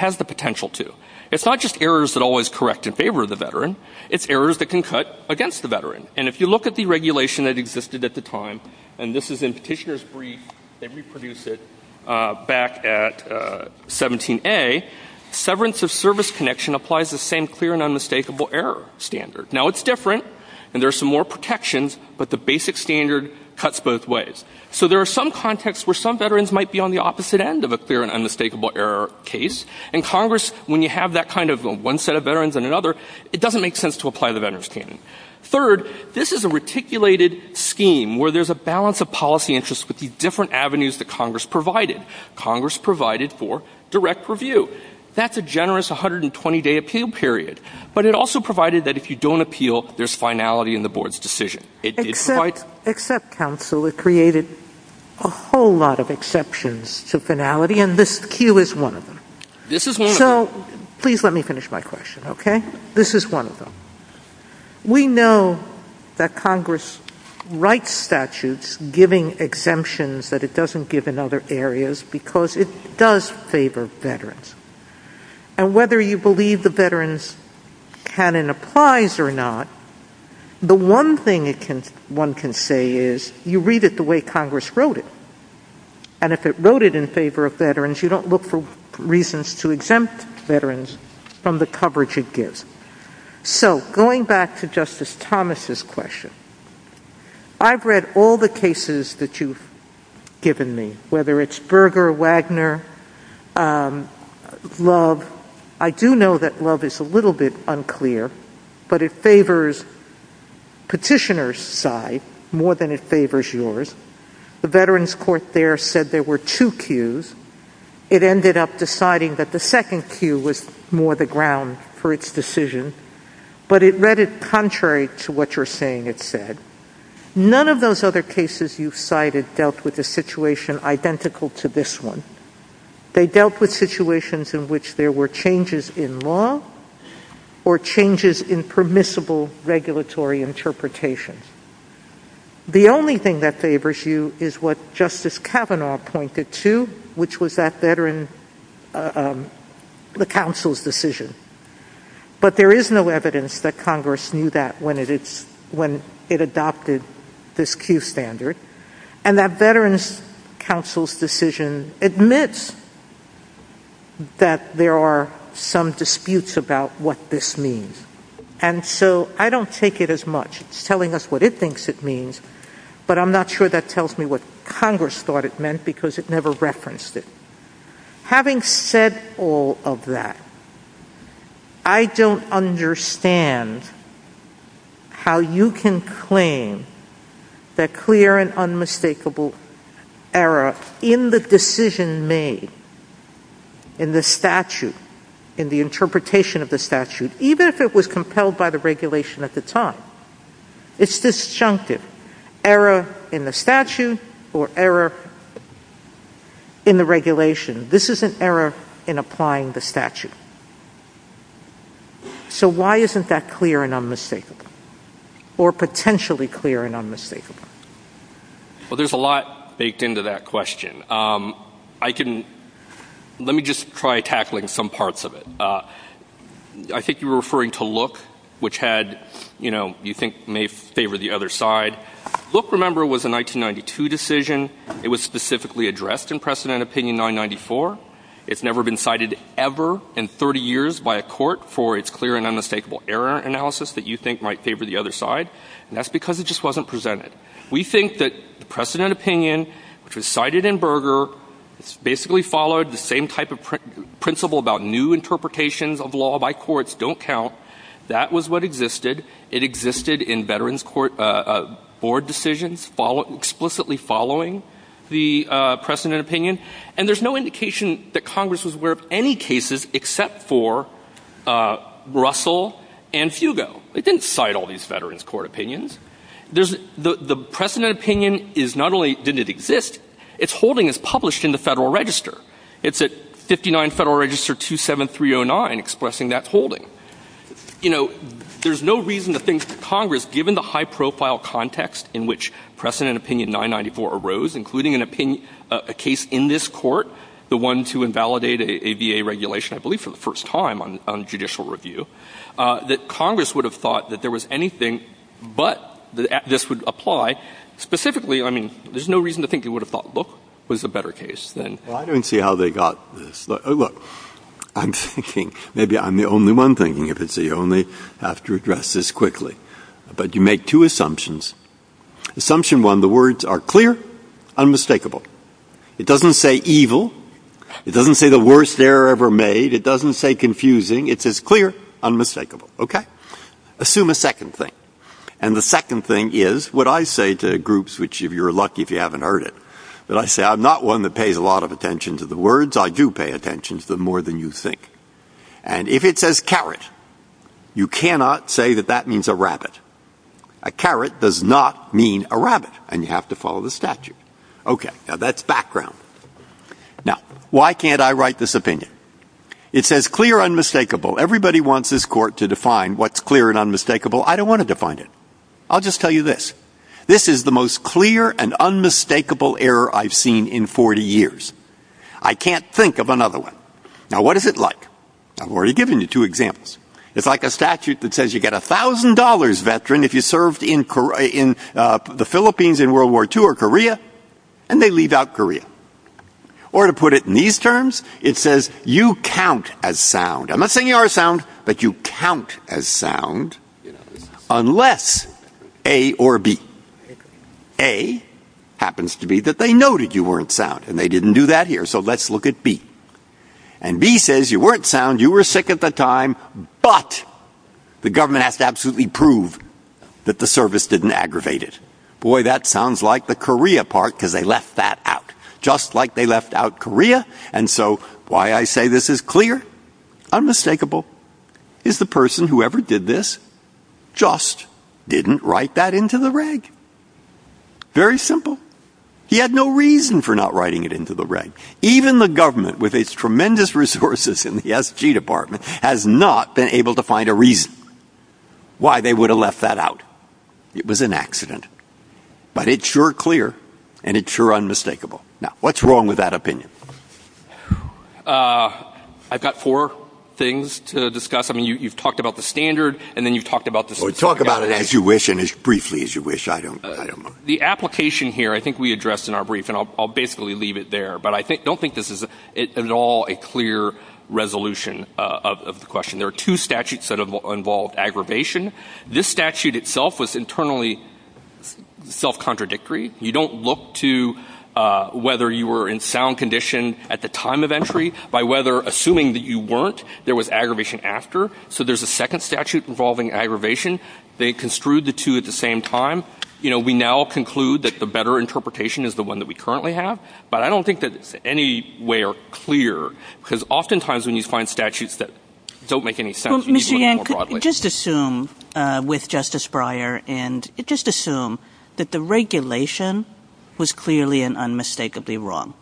It's not just errors that always correct in favor of the veteran. It's errors that can cut against the veteran. And if you look at the regulation that existed at the time, and this is in Petitioner's Brief, and we produced it back at 17A, severance of service connection applies the same clear and unmistakable error standard. Now, it's different, and there's some more protections, but the basic standard cuts both ways. So there are some contexts where some veterans might be on the opposite end of a clear and unmistakable error case, and Congress, when you have that kind of one set of veterans and another, it doesn't make sense to apply the veterans' payment. Third, this is a reticulated scheme where there's a balance of policy interests with the different avenues that Congress provided. Congress provided for direct review. That's a generous 120-day appeal period. But it also provided that if you don't appeal, there's finality in the board's decision. It did provide... Except counsel, it created a whole lot of exceptions to finality, and this queue is one of them. This is one of them. So, please let me finish my question, okay? This is one of them. We know that Congress writes statutes giving exemptions that it doesn't give in other areas because it does favor veterans. And whether you believe the veterans canon applies or not, the one thing one can say is, you read it the way Congress wrote it. And if it wrote it in favor of veterans, you don't look for reasons to exempt veterans from the coverage it gives. So, going back to Justice Thomas' question, I've read all the cases that you've given me, whether it's Berger, Wagner, Love. I do know that Love is a little bit unclear, but it favors petitioner's side more than it favors yours. The veterans court there said there were two queues. It ended up deciding that the second queue was more the ground for its decision, but it read it contrary to what you're saying it said. None of those other cases you've cited dealt with a situation identical to this one. They dealt with situations in which there were changes in law or changes in permissible regulatory interpretations. The only thing that favors you is what Justice Kavanaugh pointed to, which was that veteran counsel's decision. But there is no evidence that Congress knew that when it adopted this queue standard. And that veterans counsel's decision admits that there are some disputes about what this means. And so I don't take it as much. It's telling us what it thinks it means, but I'm not sure that tells me what Congress thought it meant because it never referenced it. Having said all of that, I don't understand how you can claim that clear and unmistakable error in the decision made in the statute, in the interpretation of the statute, even if it was compelled by the regulation at the time. It's disjunctive. Error in the statute or error in the regulation. This is an error in applying the statute. So why isn't that clear and unmistakable? Or potentially clear and unmistakable? Well, there's a lot baked into that question. Let me just try tackling some parts of it. I think you were referring to Look, which you think may favor the other side. Look, remember, was a 1992 decision. It was specifically addressed in precedent opinion 994. It's never been cited ever in 30 years by a court for its clear and unmistakable error analysis that you think might favor the other side. And that's because it just wasn't presented. We think that precedent opinion, which was cited in Berger, basically followed the same type of principle about new interpretations of law by courts don't count. That was what existed. It existed in veterans court board decisions, explicitly following the precedent opinion. And there's no indication that Congress was aware of any cases except for Russell and Fugo. It didn't cite all these veterans court opinions. The precedent opinion is not only did it exist, its holding is published in the Federal Register. It's at 59 Federal Register 27309 expressing that holding. You know, there's no reason to think that Congress, given the high-profile context in which precedent opinion 994 arose, including a case in this court, the one to invalidate a VA regulation, I believe, for the first time on judicial review, that Congress would have thought that there was anything but this would apply. Specifically, I mean, there's no reason to think Congress would have thought, look, there's a better case than... Well, I don't see how they got this. Look, I'm thinking, maybe I'm the only one thinking, if it's the only, have to address this quickly. But you make two assumptions. Assumption one, the words are clear, unmistakable. It doesn't say evil. It doesn't say the worst error ever made. It doesn't say confusing. It says clear, unmistakable, OK? Assume a second thing. And the second thing is what I say to groups, which you're lucky if you haven't heard it, but I say I'm not one that pays a lot of attention to the words. I do pay attention to them more than you think. And if it says carrot, you cannot say that that means a rabbit. A carrot does not mean a rabbit, and you have to follow the statute. OK, now that's background. Now, why can't I write this opinion? It says clear, unmistakable. Everybody wants this court to define what's clear and unmistakable. I don't want to define it. I'll just tell you this. This is the most clear and unmistakable error I've seen in 40 years. I can't think of another one. Now, what is it like? I've already given you two examples. It's like a statute that says you get $1,000, veteran, if you served in the Philippines in World War II or Korea, and they leave out Korea. Or to put it in these terms, it says you count as sound. I'm not saying you are sound, but you count as sound, unless A or B. A happens to be that they noted you weren't sound, and they didn't do that here, so let's look at B. And B says you weren't sound, you were sick at the time, but the government has to absolutely prove that the service didn't aggravate it. Boy, that sounds like the Korea part, because they left that out, just like they left out Korea. And so why I say this is clear, unmistakable, is the person who ever did this just didn't write that into the reg. Very simple. He had no reason for not writing it into the reg. Even the government, with its tremendous resources in the SG department, has not been able to find a reason why they would have left that out. It was an accident. But it's sure clear, and it's sure unmistakable. Now, what's wrong with that opinion? I've got four things to discuss. I mean, you've talked about the standard, and then you've talked about the statute. Talk about it as you wish, and as briefly as you wish. I don't know. The application here, I think we addressed in our brief, and I'll basically leave it there, but I don't think this is at all a clear resolution of the question. There are two statutes that have involved aggravation. This statute itself was internally self-contradictory. You don't look to whether you were in sound condition at the time of entry by whether, assuming that you weren't, there was aggravation after. So there's a second statute involving aggravation. They construed the two at the same time. You know, we now conclude that the better interpretation is the one that we currently have, but I don't think that it's in any way clear, because oftentimes when you find statutes that don't make any sense... Well, Mr. Yang, just assume, with Justice Breyer, and just assume that the regulation was clearly and unmistakably wrong.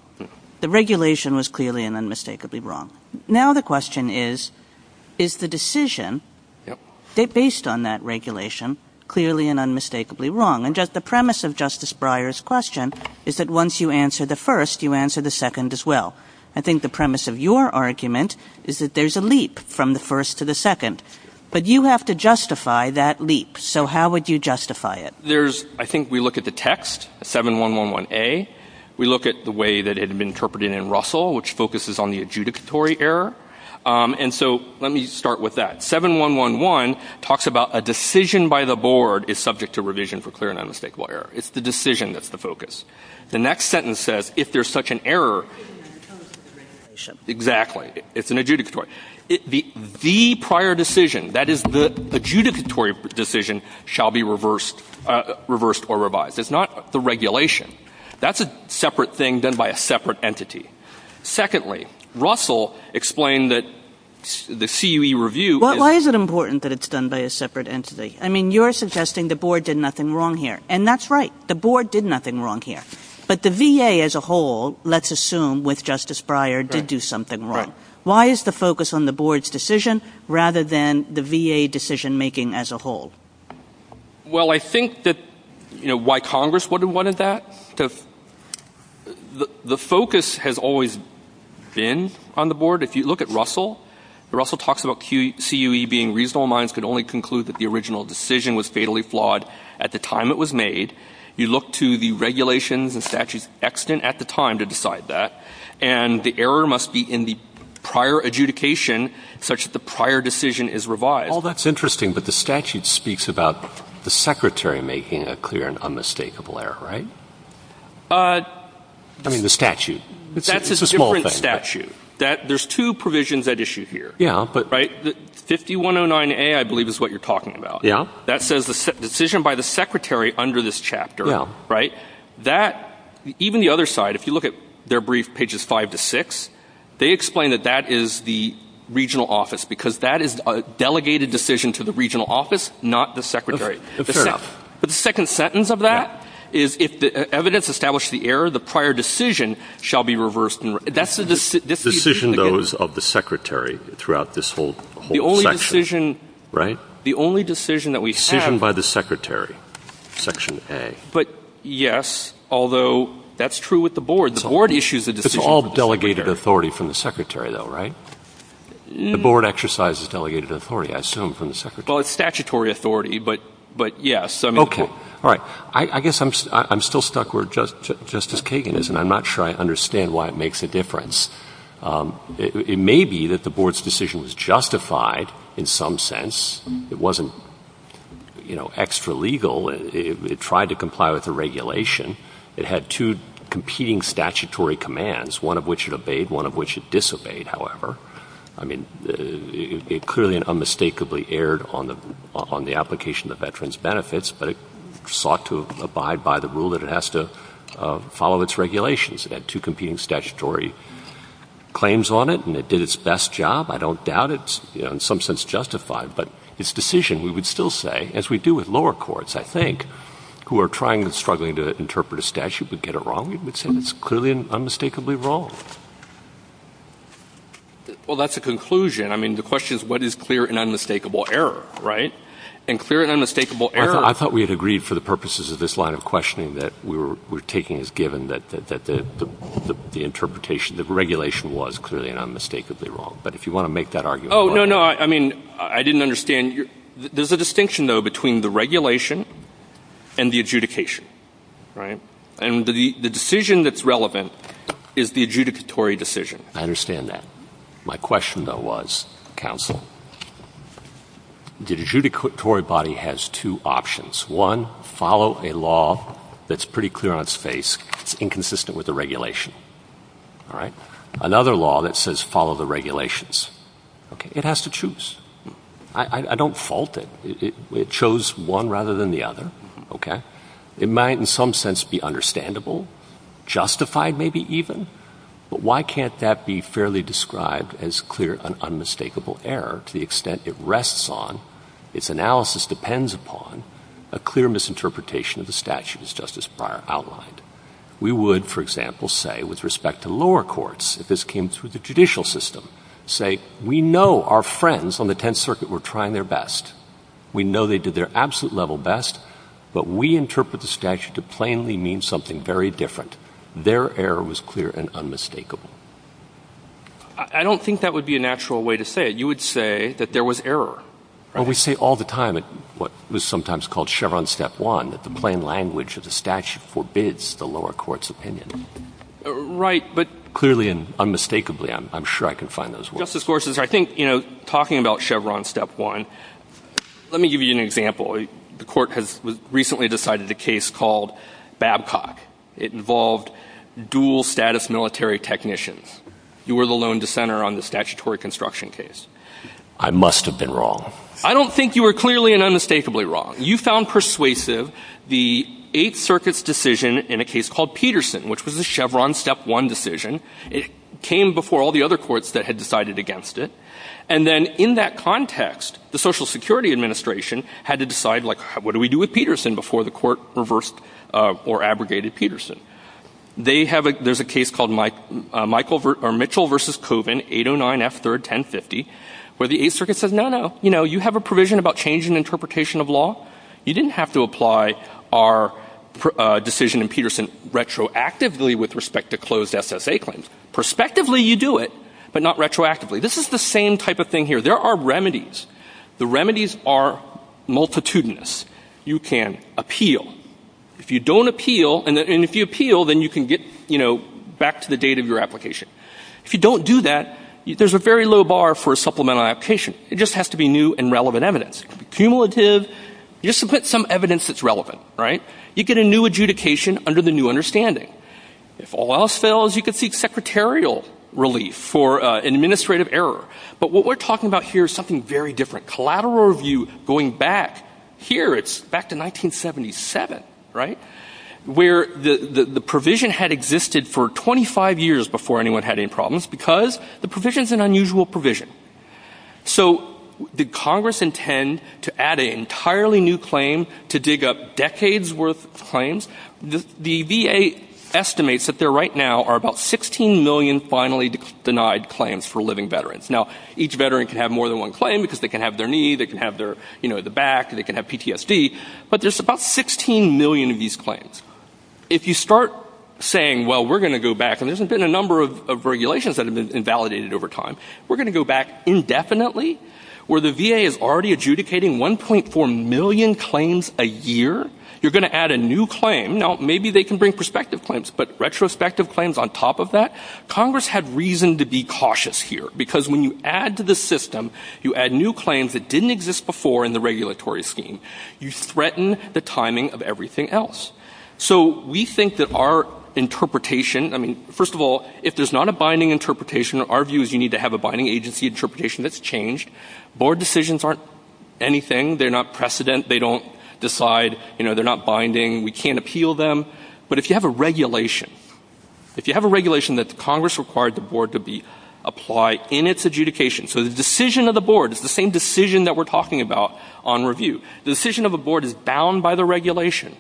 The regulation was clearly and unmistakably wrong. Now the question is, is the decision based on that regulation clearly and unmistakably wrong? And the premise of Justice Breyer's question is that once you answer the first, you answer the second as well. I think the premise of your argument is that there's a leap from the first to the second, but you have to justify that leap. So how would you justify it? I think we look at the text, 7111A. We look at the way that it had been interpreted in Russell, which focuses on the adjudicatory error. And so let me start with that. 7111 talks about a decision by the board is subject to revision for clear and unmistakable error. It's the decision that's the focus. The next sentence says, if there's such an error... Exactly. It's an adjudicatory. The prior decision, that is, the adjudicatory decision, shall be reversed or revised. It's not the regulation. That's a separate thing done by a separate entity. Secondly, Russell explained that the CUE review... Why is it important that it's done by a separate entity? I mean, you're suggesting the board did nothing wrong here. And that's right. The board did nothing wrong here. But the VA as a whole, let's assume, with Justice Breyer, did do something wrong. Why is the focus on the board's decision rather than the VA decision-making as a whole? Well, I think that, you know, why Congress wouldn't have wanted that to... The focus has always been on the board. If you look at Russell, Russell talks about CUE being reasonable and could only conclude that the original decision was fatally flawed at the time it was made. You look to the regulations and statutes extant at the time to decide that. And the error must be in the prior adjudication such that the prior decision is revised. Oh, that's interesting. But the statute speaks about the secretary making a clear and unmistakable error, right? Uh... I mean, the statute. That's a different statute. There's two provisions at issue here. Yeah, but... Right? 5109A, I believe, is what you're talking about. Yeah. That says the decision by the secretary under this chapter. Yeah. Right? That... If you look at their brief, pages 5 to 6, they explain that that is the regional office because that is a delegated decision to the regional office, not the secretary. That's right. But the second sentence of that is if the evidence established the error, the prior decision shall be reversed. That's the decision... Decision, though, is of the secretary throughout this whole section. The only decision... Right? The only decision that we have... Decision by the secretary, section A. But, yes, although that's true with the board. The board issues the decision... It's all delegated authority from the secretary, though, right? The board exercises delegated authority, I assume, from the secretary. Well, it's statutory authority, but yes. Okay. All right. I guess I'm still stuck where Justice Kagan is, and I'm not sure I understand why it makes a difference. It may be that the board's decision was justified in some sense. It wasn't, you know, extra-legal. It tried to comply with the regulation. It had two competing statutory commands, one of which it obeyed, one of which it disobeyed, however. I mean, it clearly and unmistakably erred on the application of the veterans' benefits, but it sought to abide by the rule that it has to follow its regulations. It had two competing statutory claims on it, and it did its best job. I don't doubt it's, you know, in some sense justified, but its decision, we would still say, as we do with lower courts, I think, who are trying and struggling to interpret a statute but get it wrong, we would say it's clearly and unmistakably wrong. Well, that's a conclusion. I mean, the question is, what is clear and unmistakable error, right? And clear and unmistakable error... I thought we had agreed for the purposes of this line of questioning that we're taking as given that the interpretation, the regulation was clearly and unmistakably wrong, but if you want to make that argument... Oh, no, no. I mean, I didn't understand. There's a distinction, though, between the regulation and the adjudication, right? And the decision that's relevant is the adjudicatory decision. I understand that. My question, though, was, counsel, the adjudicatory body has two options. One, follow a law that's pretty clear on its face. It's inconsistent with the regulation, all right? Another law that says follow the regulations. Okay, it has to choose. I don't fault it. It chose one rather than the other, okay? It might in some sense be understandable, justified maybe even, but why can't that be fairly described as clear and unmistakable error to the extent it rests on, its analysis depends upon, a clear misinterpretation of the statute as Justice Breyer outlined? We would, for example, say, with respect to lower courts, if this came through the judicial system, say, we know our friends on the Tenth Circuit were trying their best. We know they did their absolute level best, but we interpret the statute to plainly mean something very different. Their error was clear and unmistakable. I don't think that would be a natural way to say it. You would say that there was error. And we say all the time at what is sometimes called Chevron Step One that the plain language of the statute forbids the lower court's opinion. Right, but... Clearly and unmistakably, I'm sure I can find those words. Justice Gorsuch, I think, you know, talking about Chevron Step One, let me give you an example. The court has recently decided a case called Babcock. It involved dual-status military technicians. You were the lone dissenter on the statutory construction case. I must have been wrong. I don't think you were clearly and unmistakably wrong. You found persuasive the Eighth Circuit's decision in a case called Peterson, which was a Chevron Step One decision. It came before all the other courts that had decided against it. And then in that context, the Social Security Administration had to decide, like, what do we do with Peterson before the court reversed or abrogated Peterson? There's a case called Mitchell v. Coven, 809 F. 3rd, 1050, where the Eighth Circuit says, no, no. You know, you have a provision about change in interpretation of law. You didn't have to apply our decision in Peterson retroactively with respect to closed SSA claims. Perspectively, you do it, but not retroactively. This is the same type of thing here. There are remedies. The remedies are multitudinous. You can appeal. If you don't appeal, and if you appeal, then you can get, you know, back to the date of your application. If you don't do that, there's a very low bar for a supplemental application. It just has to be new and relevant evidence. Cumulative, just to put some evidence that's relevant, right? You get a new adjudication under the new understanding. If all else fails, you can seek secretarial relief for administrative error. But what we're talking about here is something very different. Collateral review going back here, it's back to 1977, right? Where the provision had existed for 25 years before anyone had any problems, because the provision's an unusual provision. So did Congress intend to add an entirely new claim to dig up decades' worth of claims? The VA estimates that there right now are about 16 million finally denied claims for living veterans. Now, each veteran can have more than one claim because they can have their knee, they can have their, you know, the back, they can have PTSD. But there's about 16 million of these claims. If you start saying, well, we're going to go back, and there's been a number of regulations that have been invalidated over time. We're going to go back indefinitely where the VA is already adjudicating 1.4 million claims a year. You're going to add a new claim. Now, maybe they can bring prospective claims, but retrospective claims on top of that? Congress had reason to be cautious here, because when you add to the system, you add new claims that didn't exist before in the regulatory scheme. You threaten the timing of everything else. So we think that our interpretation, I mean, first of all, if there's not a binding interpretation, our view is you need to have a binding agency interpretation that's changed. Board decisions aren't anything. They're not precedent. They don't decide. You know, they're not binding. We can't appeal them. But if you have a regulation, if you have a regulation that Congress required the board to apply in its adjudication, so the decision of the board is the same decision that we're talking about on review. The decision of the board is bound by the regulation.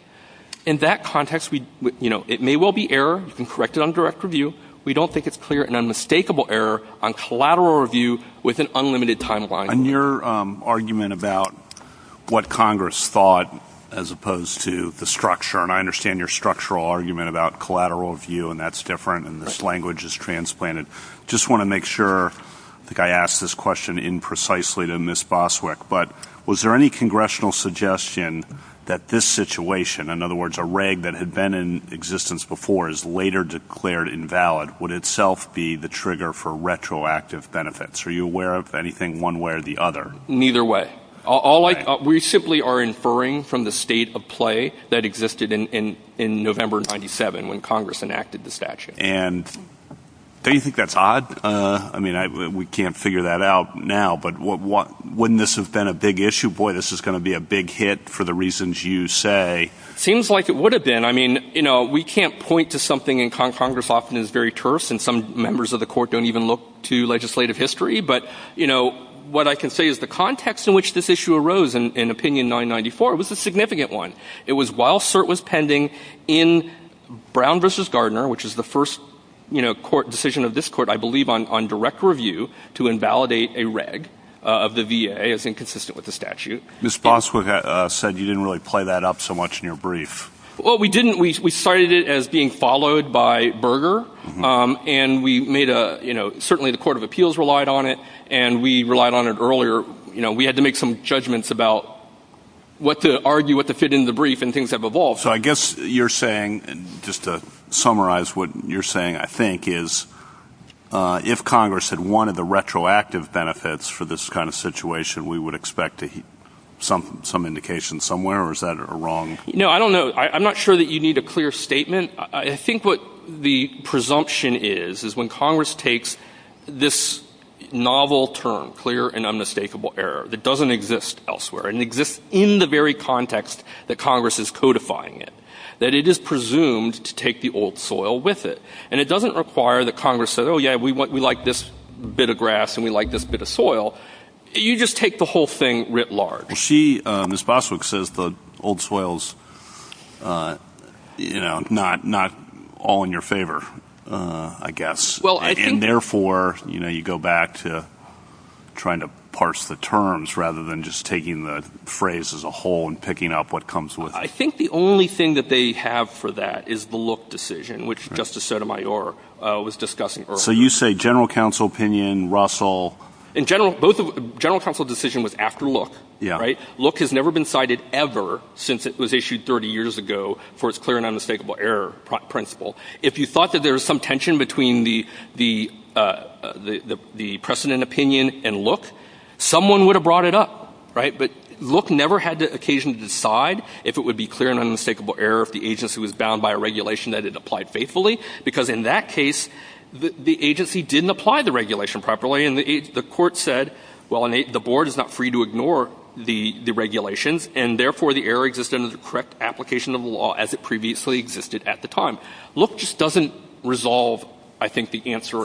In that context, you know, it may well be error. You can correct it on direct review. We don't think it's clear and unmistakable error on collateral review with an unlimited timeline. And your argument about what Congress thought as opposed to the structure, and I understand your structural argument about collateral review, and that's different, and this language is transplanted. Just want to make sure, I think I asked this question imprecisely to Ms. Boswick, but was there any congressional suggestion that this situation, in other words, a reg that had been in existence before is later declared invalid would itself be the trigger for retroactive benefits? Are you aware of anything one way or the other? Neither way. We simply are inferring from the state of play that existed in November of 97 when Congress enacted the statute. And don't you think that's odd? I mean, we can't figure that out now, but wouldn't this have been a big issue? Boy, this is going to be a big hit for the reasons you say. Seems like it would have been. I mean, you know, we can't point to something and Congress often is very terse, and some members of the court don't even look to legislative history, but, you know, what I can say is the context in which this issue arose in Opinion 994 was a significant one. It was while cert was pending in Brown v. Gardner, which is the first decision of this court, I believe, on direct review to invalidate a reg of the VA as inconsistent with the statute. Ms. Boswick said you didn't really play that up so much in your brief. Well, we didn't. We cited it as being followed by Berger, and we made a, you know, certainly the Court of Appeals relied on it, and we relied on it earlier. You know, we had to make some judgments about what to argue, what to fit into the brief, and things have evolved. So I guess you're saying, just to summarize what you're saying, I think is if Congress had wanted the retroactive benefits for this kind of situation, we would expect some indication somewhere, or is that wrong? No, I don't know. I'm not sure that you need a clear statement. I think what the presumption is is when Congress takes this novel term, clear and unmistakable error, that doesn't exist elsewhere and exists in the very context that Congress is codifying it, that it is presumed to take the old soil with it, and it doesn't require that Congress says, oh, yeah, we like this bit of grass and we like this bit of soil. You just take the whole thing writ large. She, Ms. Boswick, says the old soil's not all in your favor, I guess. And therefore, you go back to trying to parse the terms rather than just taking the phrase as a whole and picking up what comes with it. I think the only thing that they have for that is the Look decision, which Justice Sotomayor was discussing earlier. So you say general counsel opinion, Russell... General counsel decision was after Look. Look has never been cited ever since it was issued 30 years ago for its clear and unmistakable error principle. If you thought that there was some tension between the precedent opinion and Look, someone would have brought it up. But Look never had the occasion to decide if it would be clear and unmistakable error if the agency was bound by a regulation that it applied faithfully, because in that case, the agency didn't apply the regulation properly and the court said, well, the board is not free to ignore the regulation and therefore the error exists under the correct application of the law as it previously existed at the time. Look just doesn't resolve, I think, the answer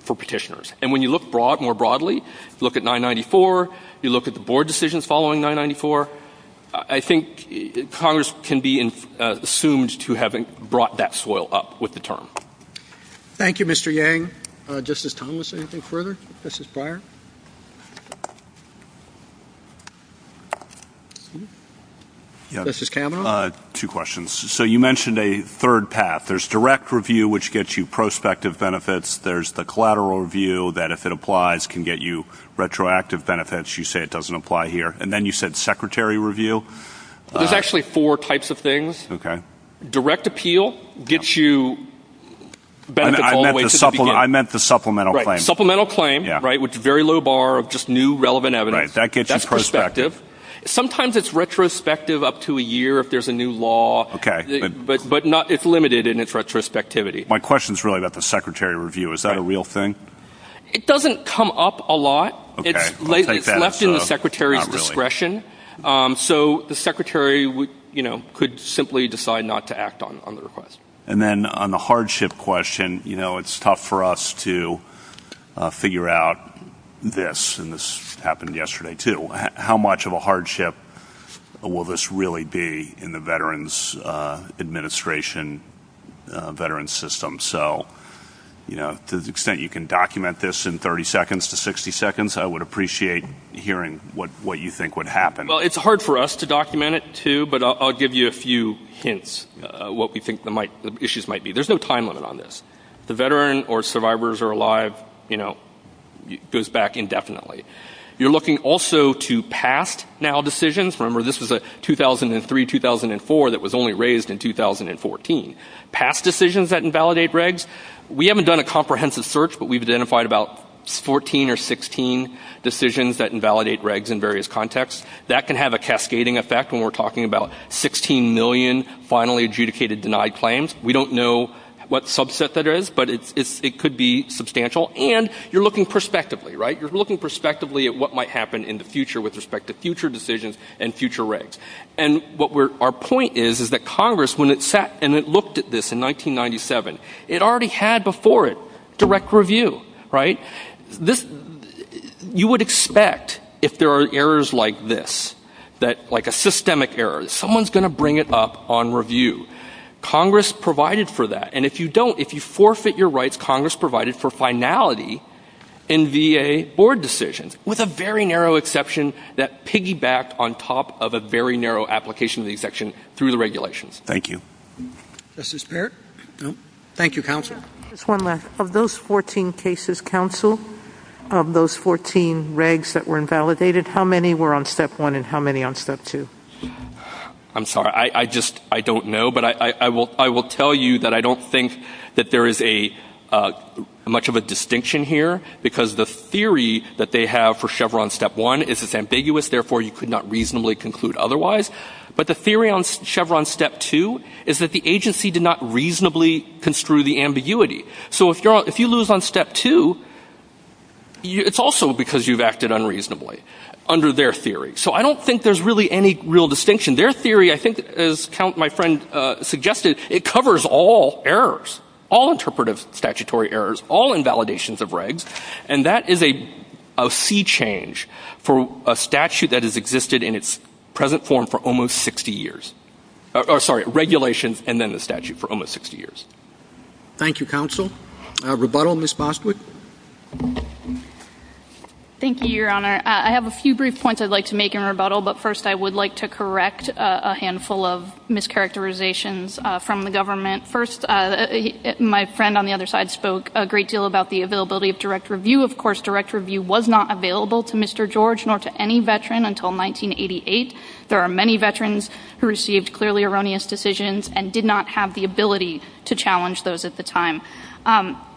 for petitioners. And when you look more broadly, look at 994, you look at the board decisions following 994, I think Congress can be assumed to have brought that soil up with the term. Thank you, Mr. Yang. Thank you. Justice Thomas, anything further? Justice Breyer? Justice Kavanaugh? Two questions. So you mentioned a third path. There's direct review, which gets you prospective benefits. There's the collateral review, that if it applies, can get you retroactive benefits. You say it doesn't apply here. And then you said secretary review. There's actually four types of things. Okay. Direct appeal gets you benefits all the way to the beginning. I meant the supplemental claim. Supplemental claim, right, with very low bar of just new relevant evidence. That gets you prospective. Sometimes it's retrospective up to a year if there's a new law. But it's limited in its retrospectivity. My question is really about the secretary review. Is that a real thing? It doesn't come up a lot. It's left in the secretary's discretion. So the secretary could simply decide not to act on it. And then on the hardship question, it's tough for us to figure out this. And this happened yesterday, too. How much of a hardship will this really be in the Veterans Administration Veterans System? So to the extent you can document this in 30 seconds to 60 seconds, I would appreciate hearing what you think would happen. Well, it's hard for us to document it, too. But I'll give you a few hints what we think the issues might be. There's no time limit on this. If the veteran or survivors are alive, it goes back indefinitely. You're looking also to past now decisions. Remember, this was a 2003-2004 that was only raised in 2014. Past decisions that invalidate regs. We haven't done a comprehensive search, but we've identified about 14 or 16 decisions that invalidate regs in various contexts. That can have a cascading effect when we're talking about 16 million finally adjudicated denied claims. We don't know what subset that is, but it could be substantial. And you're looking prospectively, right? You're looking prospectively at what might happen in the future with respect to future decisions and future regs. And our point is that Congress, when it sat and it looked at this in 1997, it already had before it direct review, right? You would expect, if there are errors like this, like a systemic error, someone's going to bring it up on review. Congress provided for that. And if you don't, if you forfeit your rights, Congress provided for finality in VA board decisions with a very narrow exception that piggybacked on top of a very narrow application of the exception through the regulations. Thank you. Mrs. Baird? Thank you, counsel. Just one last. Of those 14 cases, counsel, of those 14 regs that were invalidated, how many were on Step 1 and how many on Step 2? I'm sorry. I just don't know. But I will tell you that I don't think that there is much of a distinction here because the theory that they have for Chevron Step 1 is it's ambiguous, therefore you could not reasonably conclude otherwise. But the theory on Chevron Step 2 is that the agency did not reasonably construe the ambiguity. So if you lose on Step 2, it's also because you've acted unreasonably under their theory. So I don't think there's really any real distinction. Their theory, I think, as my friend suggested, it covers all errors, all interpretive statutory errors, all invalidations of regs, and that is a sea change for a statute that has existed in its present form for almost 60 years. Sorry, regulations and then the statute for almost 60 years. Thank you, counsel. Rebuttal, Ms. Bosworth. Thank you, Your Honor. I have a few brief points I'd like to make in rebuttal, but first I would like to correct a handful of mischaracterizations from the government. First, my friend on the other side spoke a great deal about the availability of direct review. Of course, direct review was not available to Mr. George nor to any veteran until 1988. There are many veterans who received clearly erroneous decisions and did not have the ability to challenge those at the time.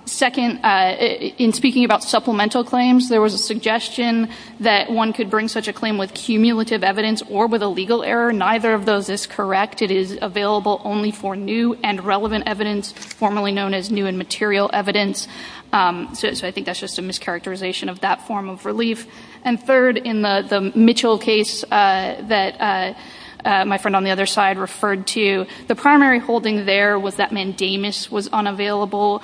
Second, in speaking about supplemental claims, there was a suggestion that one could bring such a claim with cumulative evidence or with a legal error. Neither of those is correct. It is available only for new and relevant evidence, formerly known as new and material evidence. So I think that's just a mischaracterization of that form of relief. And third, in the Mitchell case that my friend on the other side referred to, the primary holding there was that mandamus was unavailable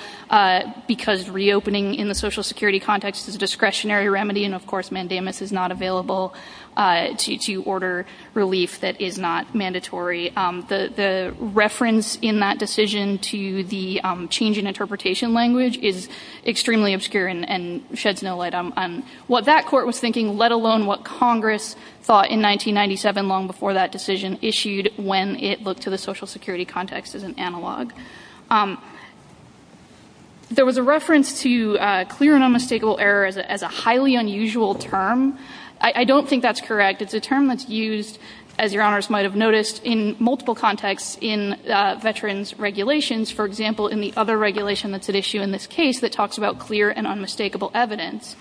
because reopening in the Social Security context is a discretionary remedy, and, of course, mandamus is not available to order relief that is not mandatory. The reference in that decision to the change in interpretation language is extremely obscure and sheds no light on what that court was thinking, let alone what Congress thought in 1997, long before that decision issued, when it looked to the Social Security context as an analog. There was a reference to clear and unmistakable errors as a highly unusual term. I don't think that's correct. It's a term that's used, as your honors might have noticed, in multiple contexts in veterans' regulations, for example, in the other regulation that's at issue in this case that talks about clear and unmistakable evidence.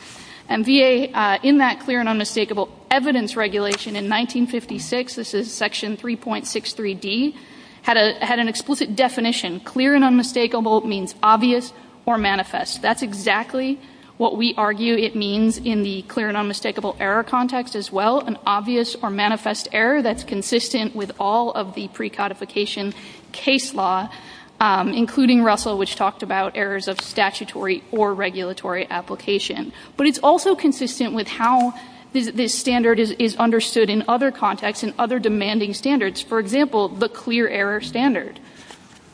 And VA, in that clear and unmistakable evidence regulation in 1956, this is Section 3.63D, had an explicit definition. Clear and unmistakable means obvious or manifest. That's exactly what we argue it means in the clear and unmistakable error context as well, an obvious or manifest error that's consistent with all of the precodification case law, including Russell, which talked about errors of statutory or regulatory application. But it's also consistent with how this standard is understood in other contexts and other demanding standards. For example, the clear error standard.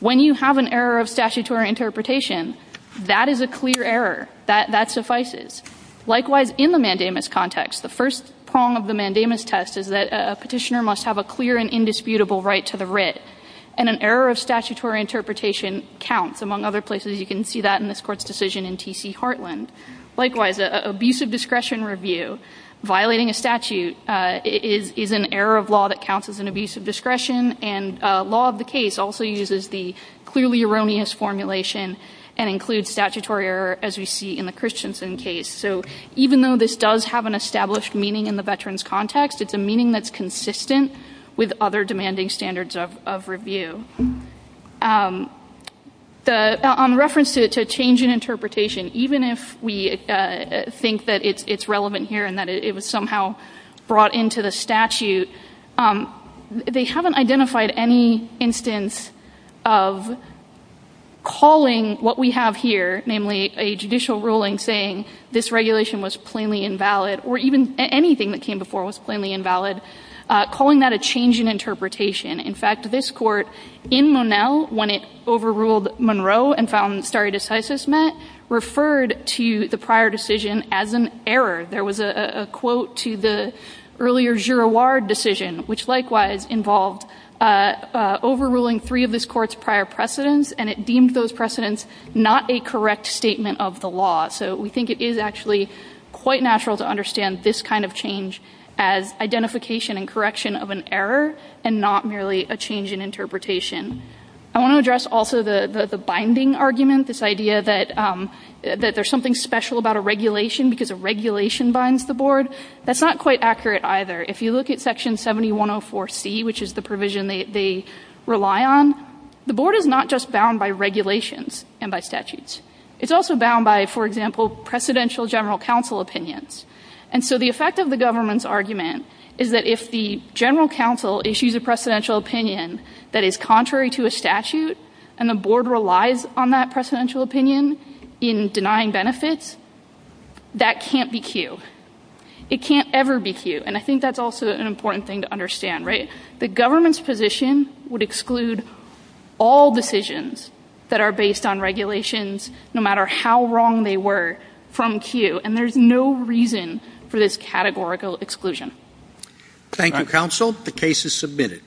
When you have an error of statutory interpretation, that is a clear error. That suffices. Likewise, in the mandamus context, the first prong of the mandamus test is that a petitioner must have a clear and indisputable right to the writ, and an error of statutory interpretation counts. Among other places you can see that in this court's decision in T.C. Heartland. Likewise, an abusive discretion review, violating a statute is an error of law that counts as an abusive discretion, and law of the case also uses the clearly erroneous formulation and includes statutory error, as we see in the Christensen case. So even though this does have an established meaning in the veterans context, it's a meaning that's consistent with other demanding standards of review. On reference to change in interpretation, even if we think that it's relevant here and that it was somehow brought into the statute, they haven't identified any instance of calling what we have here, namely a judicial ruling saying this regulation was plainly invalid, or even anything that came before was plainly invalid, calling that a change in interpretation. In fact, this court, in Monell, when it overruled Monroe and found stare decisis met, referred to the prior decision as an error. There was a quote to the earlier Girouard decision, which likewise involved overruling three of this court's prior precedents, and it deemed those precedents not a correct statement of the law. So we think it is actually quite natural to understand this kind of change as identification and correction of an error and not merely a change in interpretation. I want to address also the binding argument, this idea that there's something special about a regulation because a regulation binds the board. That's not quite accurate either. If you look at Section 7104C, which is the provision they rely on, the board is not just bound by regulations and by statutes. It's also bound by, for example, Presidential General Counsel opinions. And so the effect of the government's argument is that if the General Counsel issues a Presidential opinion that is contrary to a statute and the board relies on that Presidential opinion in denying benefits, that can't be cued. It can't ever be cued, and I think that's also an important thing to understand, right? The government's position would exclude all decisions that are based on regulations no matter how wrong they were from cue, and there's no reason for this categorical exclusion. Thank you, Counsel. The case is submitted.